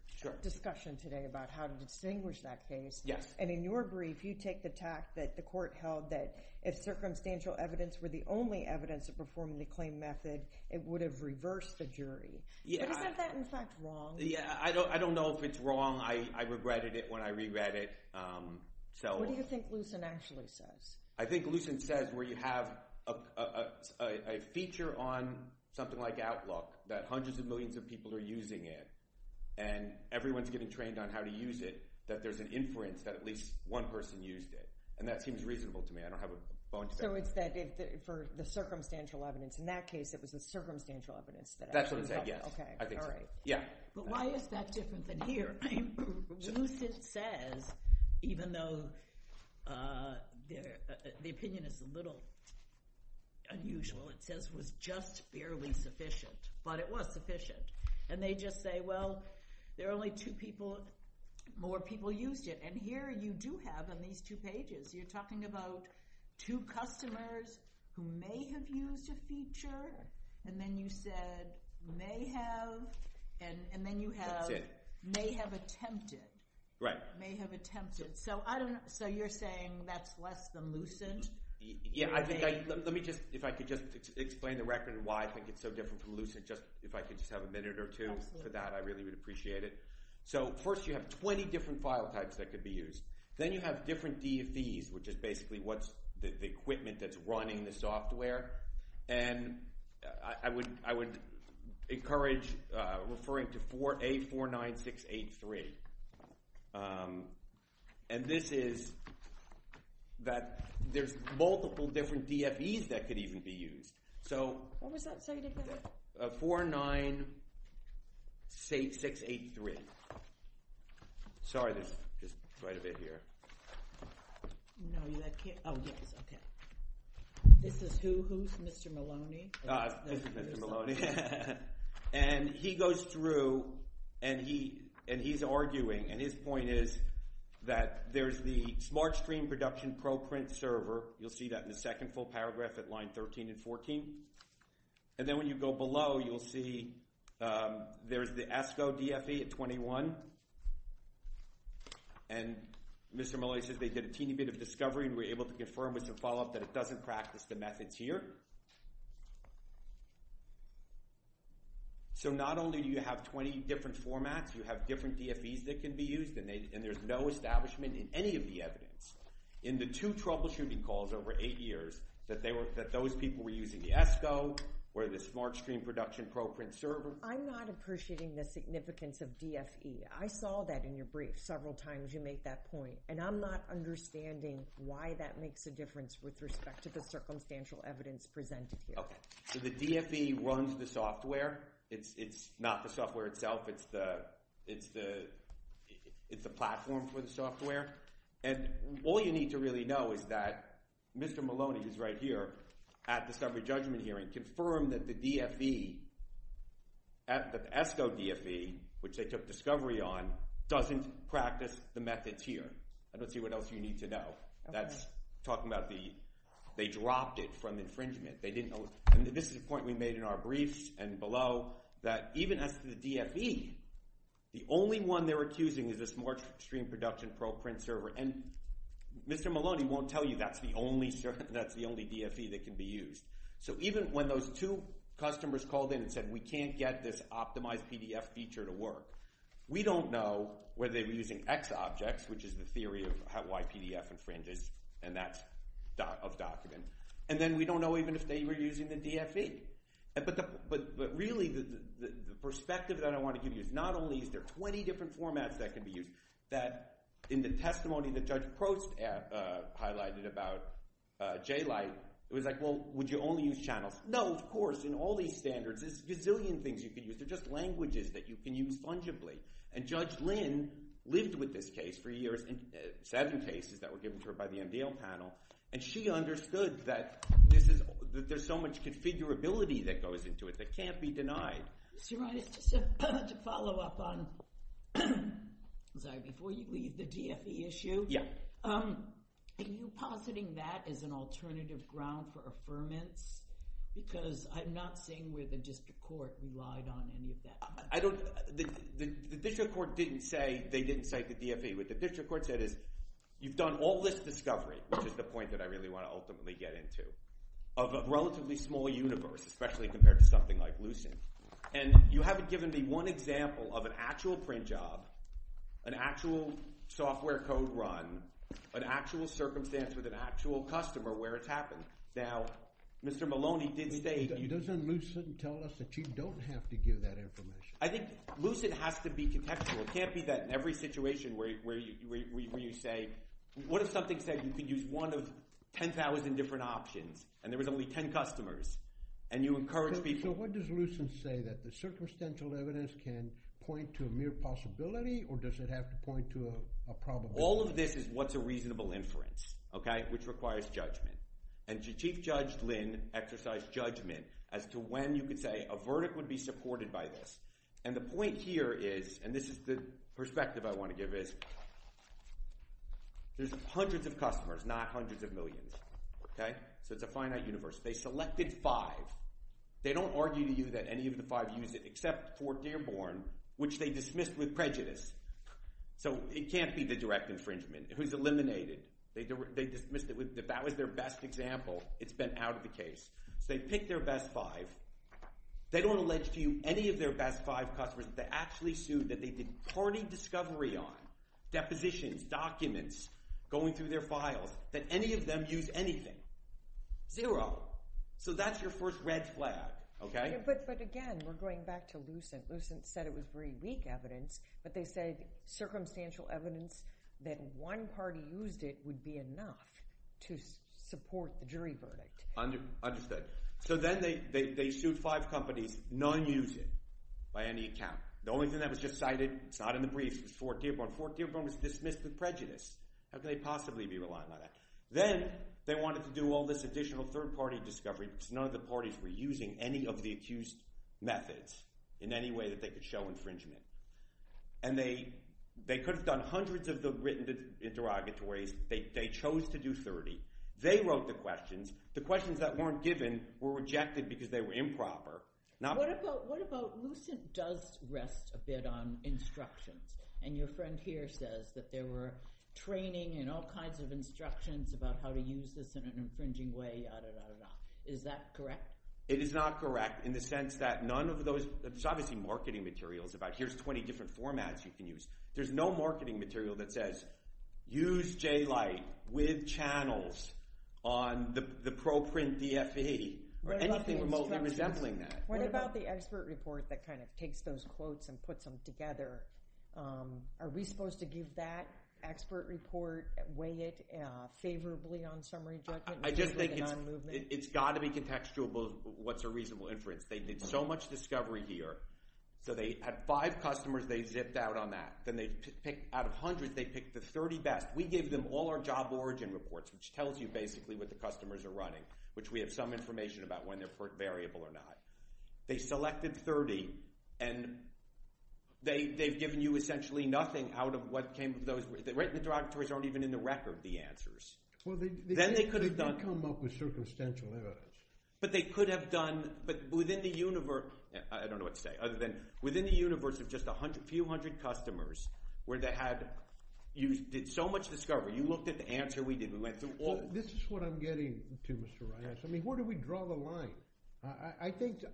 discussion today about how to distinguish that case. Yes. And in your brief, you take the tact that the court held that if circumstantial evidence were the only evidence of performing the claim method, it would have reversed the jury. Yeah. Isn't that in fact wrong? Yeah. I don't, I don't know if it's wrong. I regretted it when I regret it. So. What do you think Lucent actually says? I think Lucent says where you have a feature on something like Outlook that hundreds of millions of people are using it and everyone's getting trained on how to use it, that there's an inference that at least one person used it. And that seems reasonable to me. I don't have a bone to pick. So it's that for the circumstantial evidence, in that case, it was the circumstantial evidence that actually. That's what it said, yes. I think so. Yeah. But why is that different than here? Lucent says, even though the opinion is a little unusual, it says was just barely sufficient, but it was sufficient. And they just say, well, there are only two people, more people used it. And here you do have on these two pages, you're talking about two customers who may have used a feature. And then you said may have and then you have may have attempted. Right. May have attempted. So I don't know. So you're saying that's less than Lucent? Yeah. I think let me just, if I could just explain the record, why I think it's so different from Lucent, just if I could just have a minute or two for that, I really would appreciate it. So first you have 20 different file types that could be used. Then you have different DFEs, which is basically what's the equipment that's running the software. And I would encourage referring to A49683. And this is that there's multiple different DFEs that could even be used. So what was that? 49683. Sorry, there's just quite a bit here. No, you can't. Oh, yes. Okay. This is who? Who's Mr. Maloney? This is Mr. Maloney. And he goes through and he's arguing. And his point is that there's the SmartStream Production ProPrint server. You'll see that in the second full paragraph at line 13 and 14. And then when you go below, you'll see there's the ASCO DFE at 21. And Mr. Maloney says they did a teeny bit of discovery and were able to confirm with some follow-up that it doesn't practice the methods here. So not only do you have 20 different formats, you have different DFEs that can be used and there's no establishment in any of the evidence in the two troubleshooting calls over eight years that those people were using the ASCO or the SmartStream Production ProPrint server. I'm not appreciating the significance of DFE. I saw that in your brief several times you make that point. And I'm not understanding why that makes a difference with respect to the circumstantial evidence presented here. Okay. So the DFE runs the software. It's not the software itself. It's the platform for the software. And all you need to really know is that Mr. Maloney, who's right here at the summary judgment hearing, was able to confirm that the DFE, the ASCO DFE, which they took discovery on, doesn't practice the methods here. I don't see what else you need to know. That's talking about they dropped it from infringement. This is a point we made in our briefs and below that even as the DFE, the only one they're accusing is the SmartStream Production ProPrint server. And Mr. Maloney won't tell you that's the only DFE that can be used. So even when those two customers called in and said, we can't get this optimized PDF feature to work, we don't know whether they were using XObjects, which is the theory of how YPDF infringes, and that's of document. And then we don't know even if they were using the DFE. But really the perspective that I want to give you is not only is there 20 different formats that can be used, that in the testimony that Judge Prost highlighted about J-Lite, it was like, well, would you only use channels? No, of course, in all these standards, there's a gazillion things you can use. They're just languages that you can use fungibly. And Judge Lin lived with this case for years, seven cases that were given to her by the MDL panel, and she understood that there's so much configurability that goes into it that can't be denied. Mr. Reines, just to follow up on, before you leave the DFE issue, are you positing that as an alternative ground for affirmance? Because I'm not seeing where the district court relied on any of that. The district court didn't say they didn't cite the DFE. What the district court said is you've done all this discovery, which is the point that I really want to ultimately get into, of a relatively small universe, especially compared to something like Lucent. And you haven't given me one example of an actual print job, an actual software code run, an actual circumstance with an actual customer where it's happened. Now, Mr. Maloney did state... Doesn't Lucent tell us that you don't have to give that information? I think Lucent has to be contextual. It can't be that in every situation where you say, what if something said you could use one of 10,000 different options and there was only 10 customers, and you encourage people... So what does Lucent say, that the circumstantial evidence can point to a mere possibility, or does it have to point to a probability? All of this is what's a reasonable inference, which requires judgment. And Chief Judge Lynn exercised judgment as to when you could say a verdict would be supported by this. And the point here is, and this is the perspective I want to give, is there's hundreds of customers, not hundreds of millions. So it's a finite universe. They selected five. They don't argue to you that any of the five used it, except for Dearborn, which they dismissed with prejudice. So it can't be the direct infringement. Who's eliminated? They dismissed it. If that was their best example, it's been out of the case. So they picked their best five. They don't allege to you any of their best five customers that they actually sued, that they did party discovery on, depositions, documents, going through their files, that any of them used anything. Zero. So that's your first red flag, okay? But again, we're going back to Lucent. Lucent said it was very weak evidence, but they said circumstantial evidence that one party used it would be enough to support the jury verdict. Understood. So then they sued five companies, non-using, by any account. The only thing that was just cited, it's not in the briefs, was Fort Dearborn. Fort Dearborn was dismissed with prejudice. How could they possibly be reliant on that? Then they wanted to do all this additional third-party discovery because none of the parties were using any of the accused methods in any way that they could show infringement. And they could have done hundreds of the written interrogatories. They chose to do 30. They wrote the questions. The questions that weren't given were rejected because they were improper. What about Lucent does rest a bit on instructions, and your friend here says that there were training and all kinds of instructions about how to use this in an infringing way, yada, yada, yada. Is that correct? It is not correct in the sense that none of those – there's obviously marketing materials about here's 20 different formats you can use. There's no marketing material that says, use J-Lite with channels on the ProPrint DFE or anything remotely resembling that. What about the expert report that kind of takes those quotes and puts them together? Are we supposed to give that expert report, weigh it favorably on summary judgment? I just think it's got to be contextual, what's a reasonable inference. They did so much discovery here. So they had five customers. They zipped out on that. Then out of hundreds, they picked the 30 best. We gave them all our job origin reports, which tells you basically what the customers are running, which we have some information about when they're variable or not. They selected 30, and they've given you essentially nothing out of what came – the directories aren't even in the record, the answers. Then they could have done – They did come up with circumstantial evidence. But they could have done – but within the universe – I don't know what to say other than within the universe of just a few hundred customers where they had – you did so much discovery. You looked at the answer we did. We went through all – This is what I'm getting to, Mr. Reinhart. I mean, where do we draw the line? I think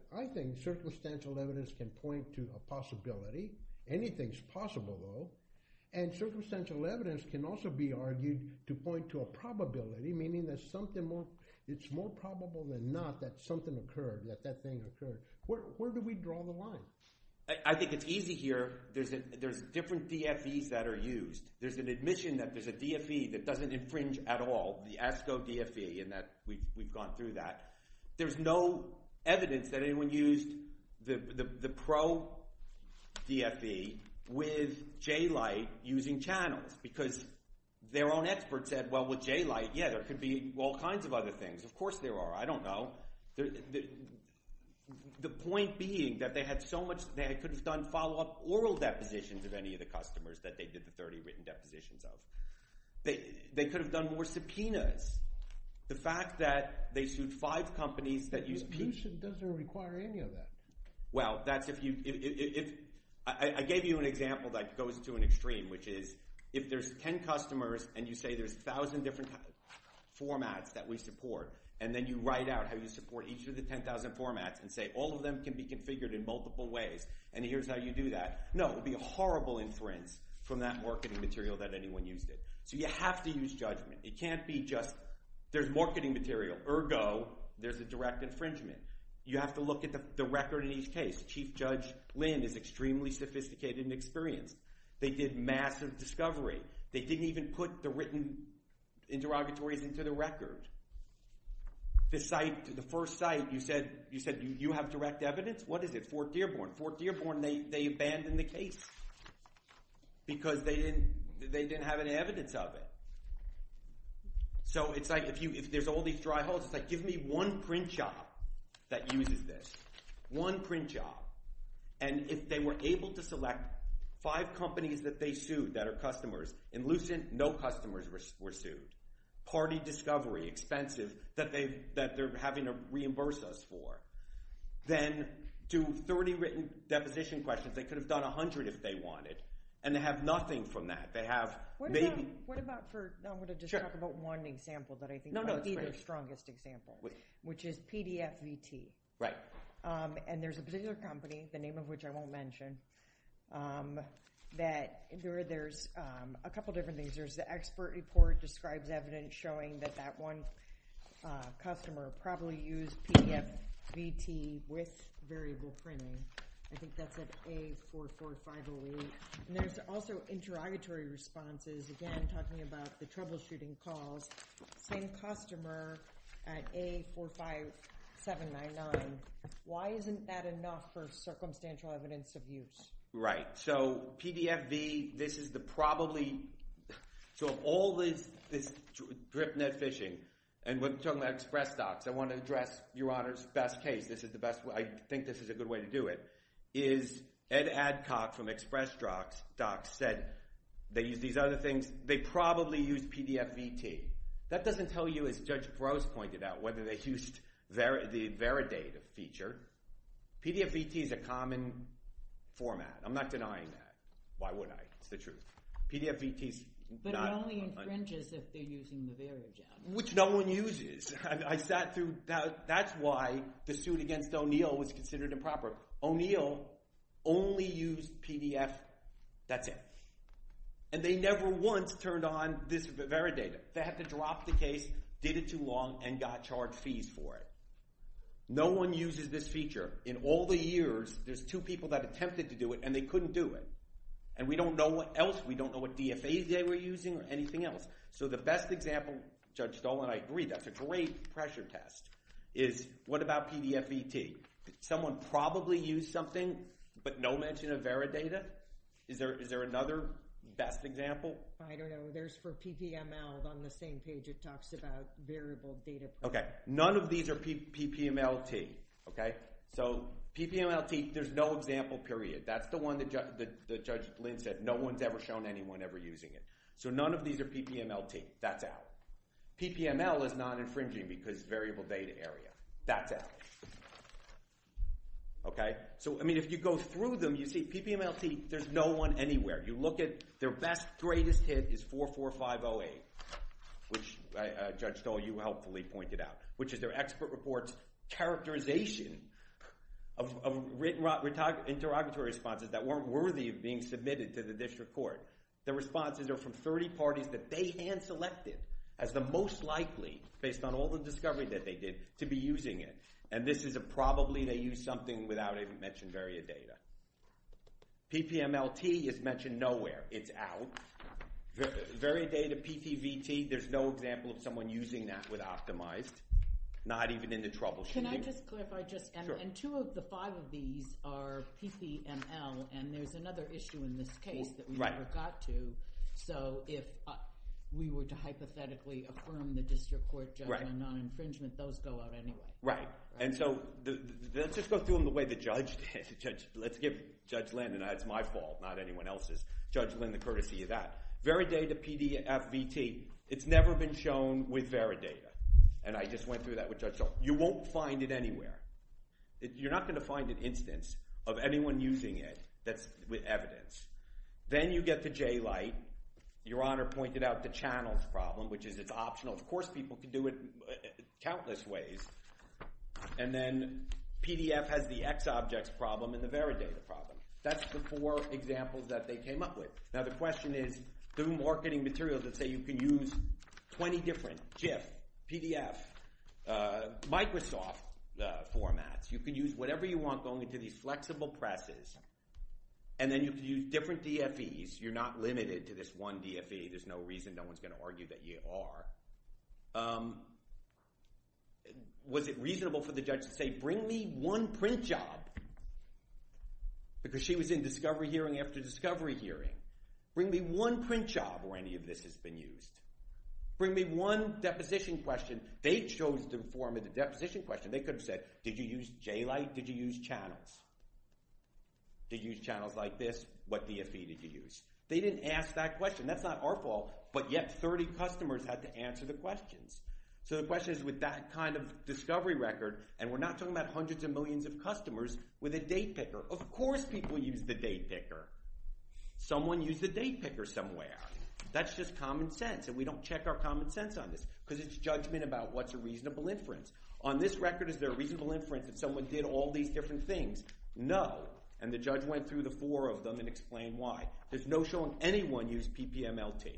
circumstantial evidence can point to a possibility. Anything is possible, though. Circumstantial evidence can also be argued to point to a probability, meaning there's something more – it's more probable than not that something occurred, that that thing occurred. Where do we draw the line? I think it's easy here. There's different DFEs that are used. There's an admission that there's a DFE that doesn't infringe at all, the ASCO DFE, and that we've gone through that. There's no evidence that anyone used the PRO DFE with J-Lite using channels because their own expert said, well, with J-Lite, yeah, there could be all kinds of other things. Of course there are. I don't know. The point being that they had so much – they could have done follow-up oral depositions of any of the customers that they did the 30 written depositions of. They could have done more subpoenas. The fact that they sued five companies that used – Admission doesn't require any of that. Well, that's if you – I gave you an example that goes to an extreme, which is if there's 10 customers and you say there's 1,000 different formats that we support and then you write out how you support each of the 10,000 formats and say all of them can be configured in multiple ways and here's how you do that. No, it would be a horrible inference from that marketing material that anyone used it. So you have to use judgment. It can't be just there's marketing material. Ergo, there's a direct infringement. You have to look at the record in each case. Chief Judge Lin is extremely sophisticated and experienced. They did massive discovery. They didn't even put the written interrogatories into the record. The first site, you said you have direct evidence. What is it? Fort Dearborn. Fort Dearborn, they abandoned the case because they didn't have any evidence of it. So it's like if there's all these dry halls, it's like give me one print job that uses this, one print job, and if they were able to select five companies that they sued that are customers, in Lucent, no customers were sued, party discovery, expensive, that they're having to reimburse us for. Then do 30 written deposition questions. They could have done 100 if they wanted, and they have nothing from that. They have maybe – What about for – I want to just talk about one example that I think is the strongest example, which is PDFVT. Right. And there's a particular company, the name of which I won't mention, that there's a couple different things. There's the expert report describes evidence showing that that one customer probably used PDFVT with variable printing. I think that's at A44508. And there's also interrogatory responses, again, talking about the troubleshooting calls. Same customer at A45799. Why isn't that enough for circumstantial evidence of use? Right. So PDFV, this is the probably – So all this drip net phishing, and we're talking about ExpressDocs. I want to address Your Honor's best case. This is the best – I think this is a good way to do it, is Ed Adcock from ExpressDocs said they used these other things. They probably used PDFVT. That doesn't tell you, as Judge Gross pointed out, whether they used the VeriData feature. PDFVT is a common format. I'm not denying that. Why would I? It's the truth. PDFVT is not – But it only infringes if they're using the VeriData. Which no one uses. I sat through – that's why the suit against O'Neill was considered improper. O'Neill only used PDF – that's it. And they never once turned on this VeriData. They had to drop the case, did it too long, and got charged fees for it. No one uses this feature. In all the years, there's two people that attempted to do it, and they couldn't do it. And we don't know what else. We don't know what DFAs they were using or anything else. So the best example, Judge Stoll and I agree, that's a great pressure test, is what about PDFVT? Someone probably used something, but no mention of VeriData? Is there another best example? I don't know. There's for PPMLs on the same page. It talks about variable data. Okay. None of these are PPMLT. Okay? So PPMLT, there's no example, period. That's the one that Judge Lynn said no one's ever shown anyone ever using it. So none of these are PPMLT. That's out. PPML is non-infringing because variable data area. That's out. Okay? So, I mean, if you go through them, you see PPMLT, there's no one anywhere. You look at their best, greatest hit is 44508, which Judge Stoll, you helpfully pointed out, which is their expert report's characterization of written interrogatory responses that weren't worthy of being submitted to the district court. The responses are from 30 parties that they hand-selected as the most likely, based on all the discovery that they did, to be using it. And this is a probably they used something without even mentioning VariData. PPMLT is mentioned nowhere. It's out. VariData, PPVT, there's no example of someone using that with Optimized, not even in the troubleshooting. Can I just clarify just, and two of the five of these are PPML, and there's another issue in this case that we never got to. So if we were to hypothetically affirm the district court judgment on infringement, those go out anyway. Right. And so let's just go through them the way the judge did. Let's give Judge Lynn, and it's my fault, not anyone else's, Judge Lynn, the courtesy of that. VariData, PDF, VT, it's never been shown with VariData, and I just went through that with Judge Lynn. You won't find it anywhere. You're not going to find an instance of anyone using it that's evidence. Then you get to J-Lite. Your Honor pointed out the channels problem, which is it's optional. Of course people can do it countless ways. And then PDF has the X objects problem and the VariData problem. That's the four examples that they came up with. Now the question is, through marketing materials, let's say you can use 20 different GIF, PDF, Microsoft formats. You can use whatever you want going into these flexible presses, and then you can use different DFEs. You're not limited to this one DFE. There's no reason no one's going to argue that you are. Was it reasonable for the judge to say, bring me one print job because she was in discovery hearing after discovery hearing. Bring me one print job where any of this has been used. Bring me one deposition question. They chose to inform the deposition question. They could have said, did you use J-Lite? Did you use channels? Did you use channels like this? What DFE did you use? They didn't ask that question. That's not our fault, but yet 30 customers had to answer the questions. So the question is with that kind of discovery record, and we're not talking about hundreds of millions of customers with a date picker. Of course people use the date picker. Someone used the date picker somewhere. That's just common sense, and we don't check our common sense on this because it's judgment about what's a reasonable inference. On this record, is there a reasonable inference that someone did all these different things? No, and the judge went through the four of them and explained why. There's no showing anyone used PPMLT.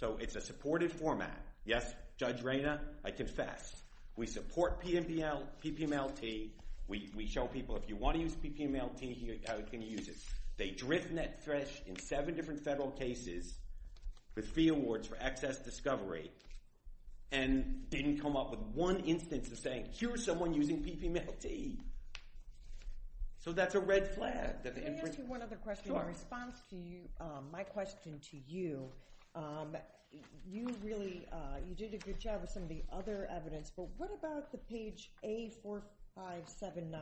So it's a supported format. Yes, Judge Reyna, I confess. We support PPMLT. We show people if you want to use PPMLT, how can you use it? They drift net thresh in seven different federal cases with fee awards for excess discovery and didn't come up with one instance of saying, here's someone using PPMLT. So that's a red flag. Let me ask you one other question in response to my question to you. You really did a good job with some of the other evidence, but what about the page A45799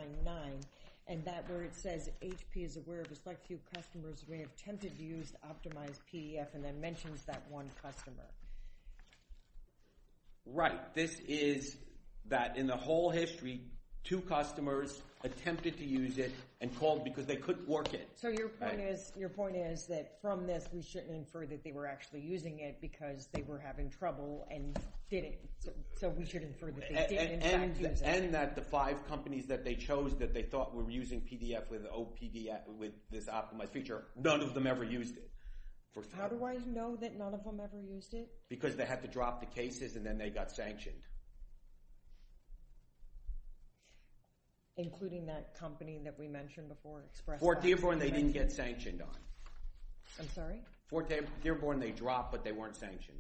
and that where it says, HP is aware of a select few customers who may have attempted to use optimized PDF and then mentions that one customer? Right. This is that in the whole history, two customers attempted to use it and called because they couldn't work it. So your point is that from this we shouldn't infer that they were actually using it because they were having trouble and didn't. So we should infer that they did in fact use it. And that the five companies that they chose that they thought were using PDF with this optimized feature, none of them ever used it. How do I know that none of them ever used it? Because they had to drop the cases and then they got sanctioned. Including that company that we mentioned before? Fort Dearborn they didn't get sanctioned on. I'm sorry? Fort Dearborn they dropped, but they weren't sanctioned.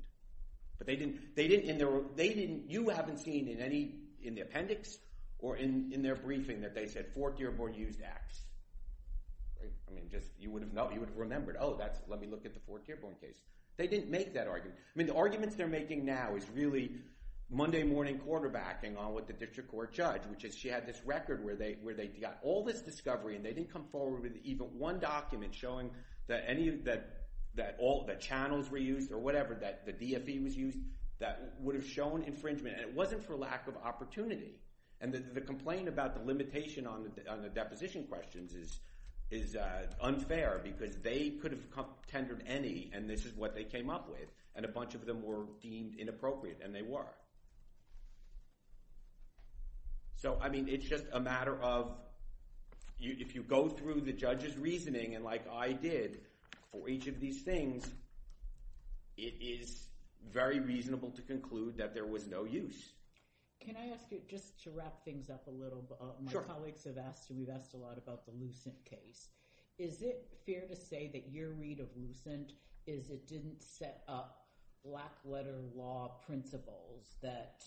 You haven't seen in the appendix or in their briefing that they said Fort Dearborn used X. You would have remembered, oh, let me look at the Fort Dearborn case. They didn't make that argument. I mean the arguments they're making now is really Monday morning quarterbacking on what the district court judge, which is she had this record where they got all this discovery and they didn't come forward with even one document showing that channels were used or whatever, that the DFE was used, that would have shown infringement. And it wasn't for lack of opportunity. And the complaint about the limitation on the deposition questions is unfair because they could have contended any and this is what they came up with and a bunch of them were deemed inappropriate and they were. So, I mean, it's just a matter of if you go through the judge's reasoning and like I did for each of these things, it is very reasonable to conclude that there was no use. Can I ask you just to wrap things up a little? Sure. My colleagues have asked and we've asked a lot about the Lucent case. Is it fair to say that your read of Lucent is it didn't set up black letter law principles that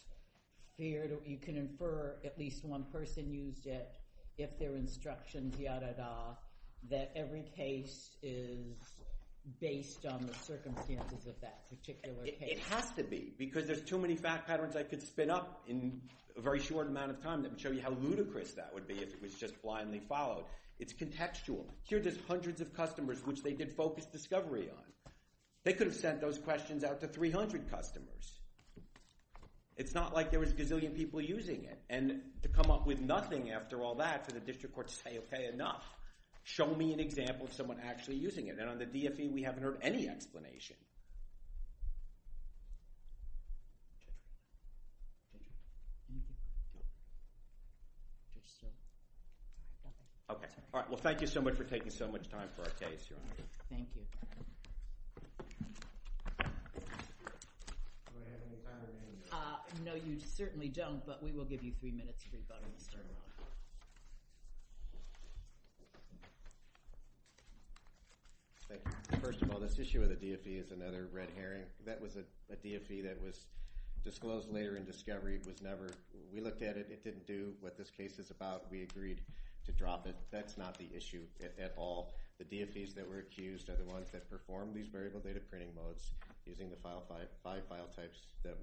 you can infer at least one person used it if their instructions, yada, da, that every case is based on the circumstances of that particular case? It has to be because there's too many fact patterns I could spin up in a very short amount of time that would show you how ludicrous that would be if it was just blindly followed. It's contextual. Here there's hundreds of customers which they did focused discovery on. They could have sent those questions out to 300 customers. It's not like there was a gazillion people using it and to come up with nothing after all that for the district court to say, okay, enough. Show me an example of someone actually using it. And on the DFE, we haven't heard any explanation. Okay. All right. Well, thank you so much for taking so much time for our case, Your Honor. Thank you. No, you certainly don't, but we will give you three minutes for your vote. First of all, this issue of the DFE is another red herring. That was a DFE that was disclosed later in discovery. It was never we looked at it. It didn't do what this case is about. We agreed to drop it. That's not the issue at all. The DFEs that were accused are the ones that performed these variable data printing modes using the five file types that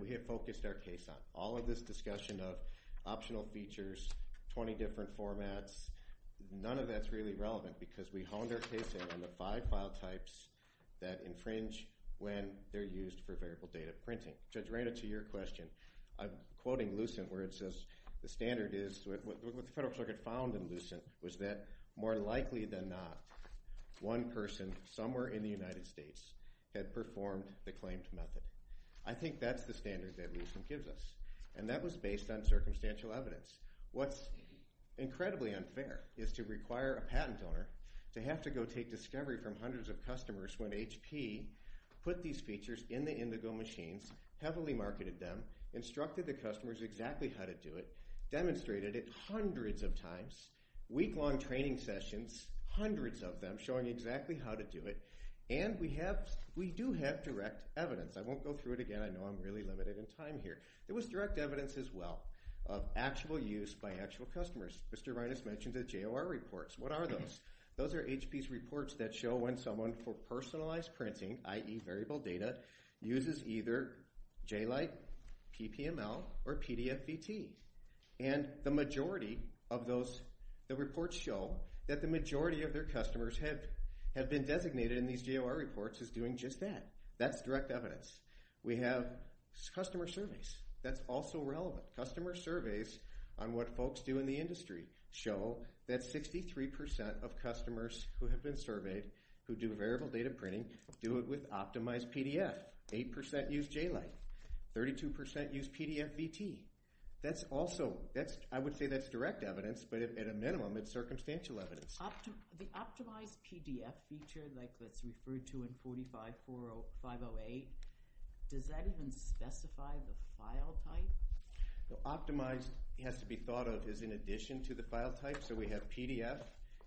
we have focused our case on. All of this discussion of optional features, 20 different formats, none of that's really relevant because we honed our case on the five file types that infringe when they're used for variable data printing. Judge Reyna, to your question, I'm quoting Lucent where it says, the standard is what the Federal Circuit found in Lucent was that more likely than not, one person somewhere in the United States had performed the claimed method. I think that's the standard that Lucent gives us, and that was based on circumstantial evidence. What's incredibly unfair is to require a patent owner to have to go take discovery from hundreds of customers when HP put these features in the indigo machines, heavily marketed them, instructed the customers exactly how to do it, demonstrated it hundreds of times, week-long training sessions, hundreds of them showing exactly how to do it, and we do have direct evidence. I won't go through it again. I know I'm really limited in time here. There was direct evidence as well of actual use by actual customers. Mr. Reynas mentioned the JOR reports. What are those? Those are HP's reports that show when someone for personalized printing, i.e., variable data, uses either J-Lite, PPML, or PDF-BT, and the majority of those reports show that the majority of their customers have been designated in these JOR reports as doing just that. That's direct evidence. We have customer surveys. That's also relevant. Customer surveys on what folks do in the industry show that 63% of customers who have been surveyed who do variable data printing do it with optimized PDF, 8% use J-Lite, 32% use PDF-BT. I would say that's direct evidence, but at a minimum, it's circumstantial evidence. The optimized PDF feature that's referred to in 45-508, does that even specify the file type? Optimized has to be thought of as in addition to the file type, so we have PDF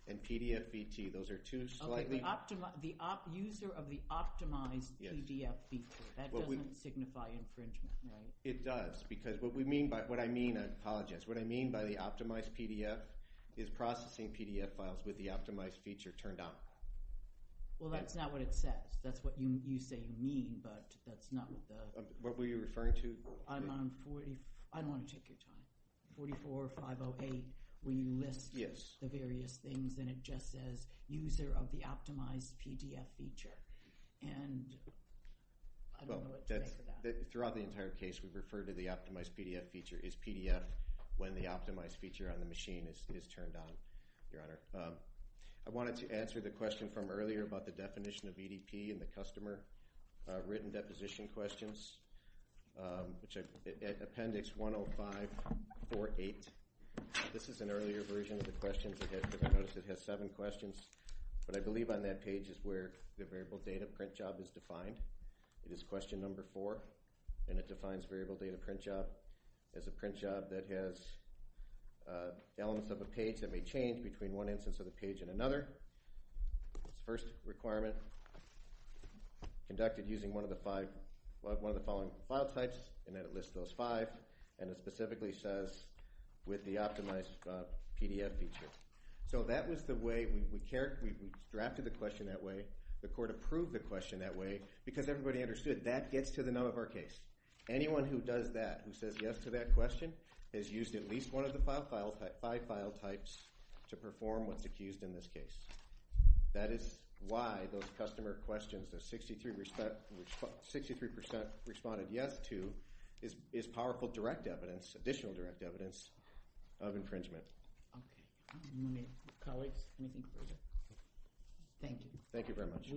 and PDF-BT. Those are two slightly— Okay, the user of the optimized PDF feature. That doesn't signify infringement, right? It does, because what we mean by—what I mean, I apologize. What I mean by the optimized PDF is processing PDF files with the optimized feature turned on. Well, that's not what it says. That's what you say you mean, but that's not what the— What were you referring to? I'm on 40—I don't want to take your time. 44-508, where you list the various things, and it just says user of the optimized PDF feature, and I don't know what to think of that. Throughout the entire case, we've referred to the optimized PDF feature as PDF when the optimized feature on the machine is turned on, Your Honor. I wanted to answer the question from earlier about the definition of EDP and the customer written deposition questions, which is Appendix 105-48. This is an earlier version of the questions. You'll notice it has seven questions, but I believe on that page is where the variable data print job is defined. It is question number four, and it defines variable data print job as a print job that has elements of a page that may change between one instance of the page and another. First requirement conducted using one of the five—one of the following file types, and then it lists those five, and it specifically says with the optimized PDF feature. So that was the way we drafted the question that way. The court approved the question that way because everybody understood that gets to the nub of our case. Anyone who does that, who says yes to that question, has used at least one of the five file types to perform what's accused in this case. That is why those customer questions that 63% responded yes to is powerful direct evidence, additional direct evidence of infringement. Okay. Colleagues, anything further? Thank you. Thank you very much.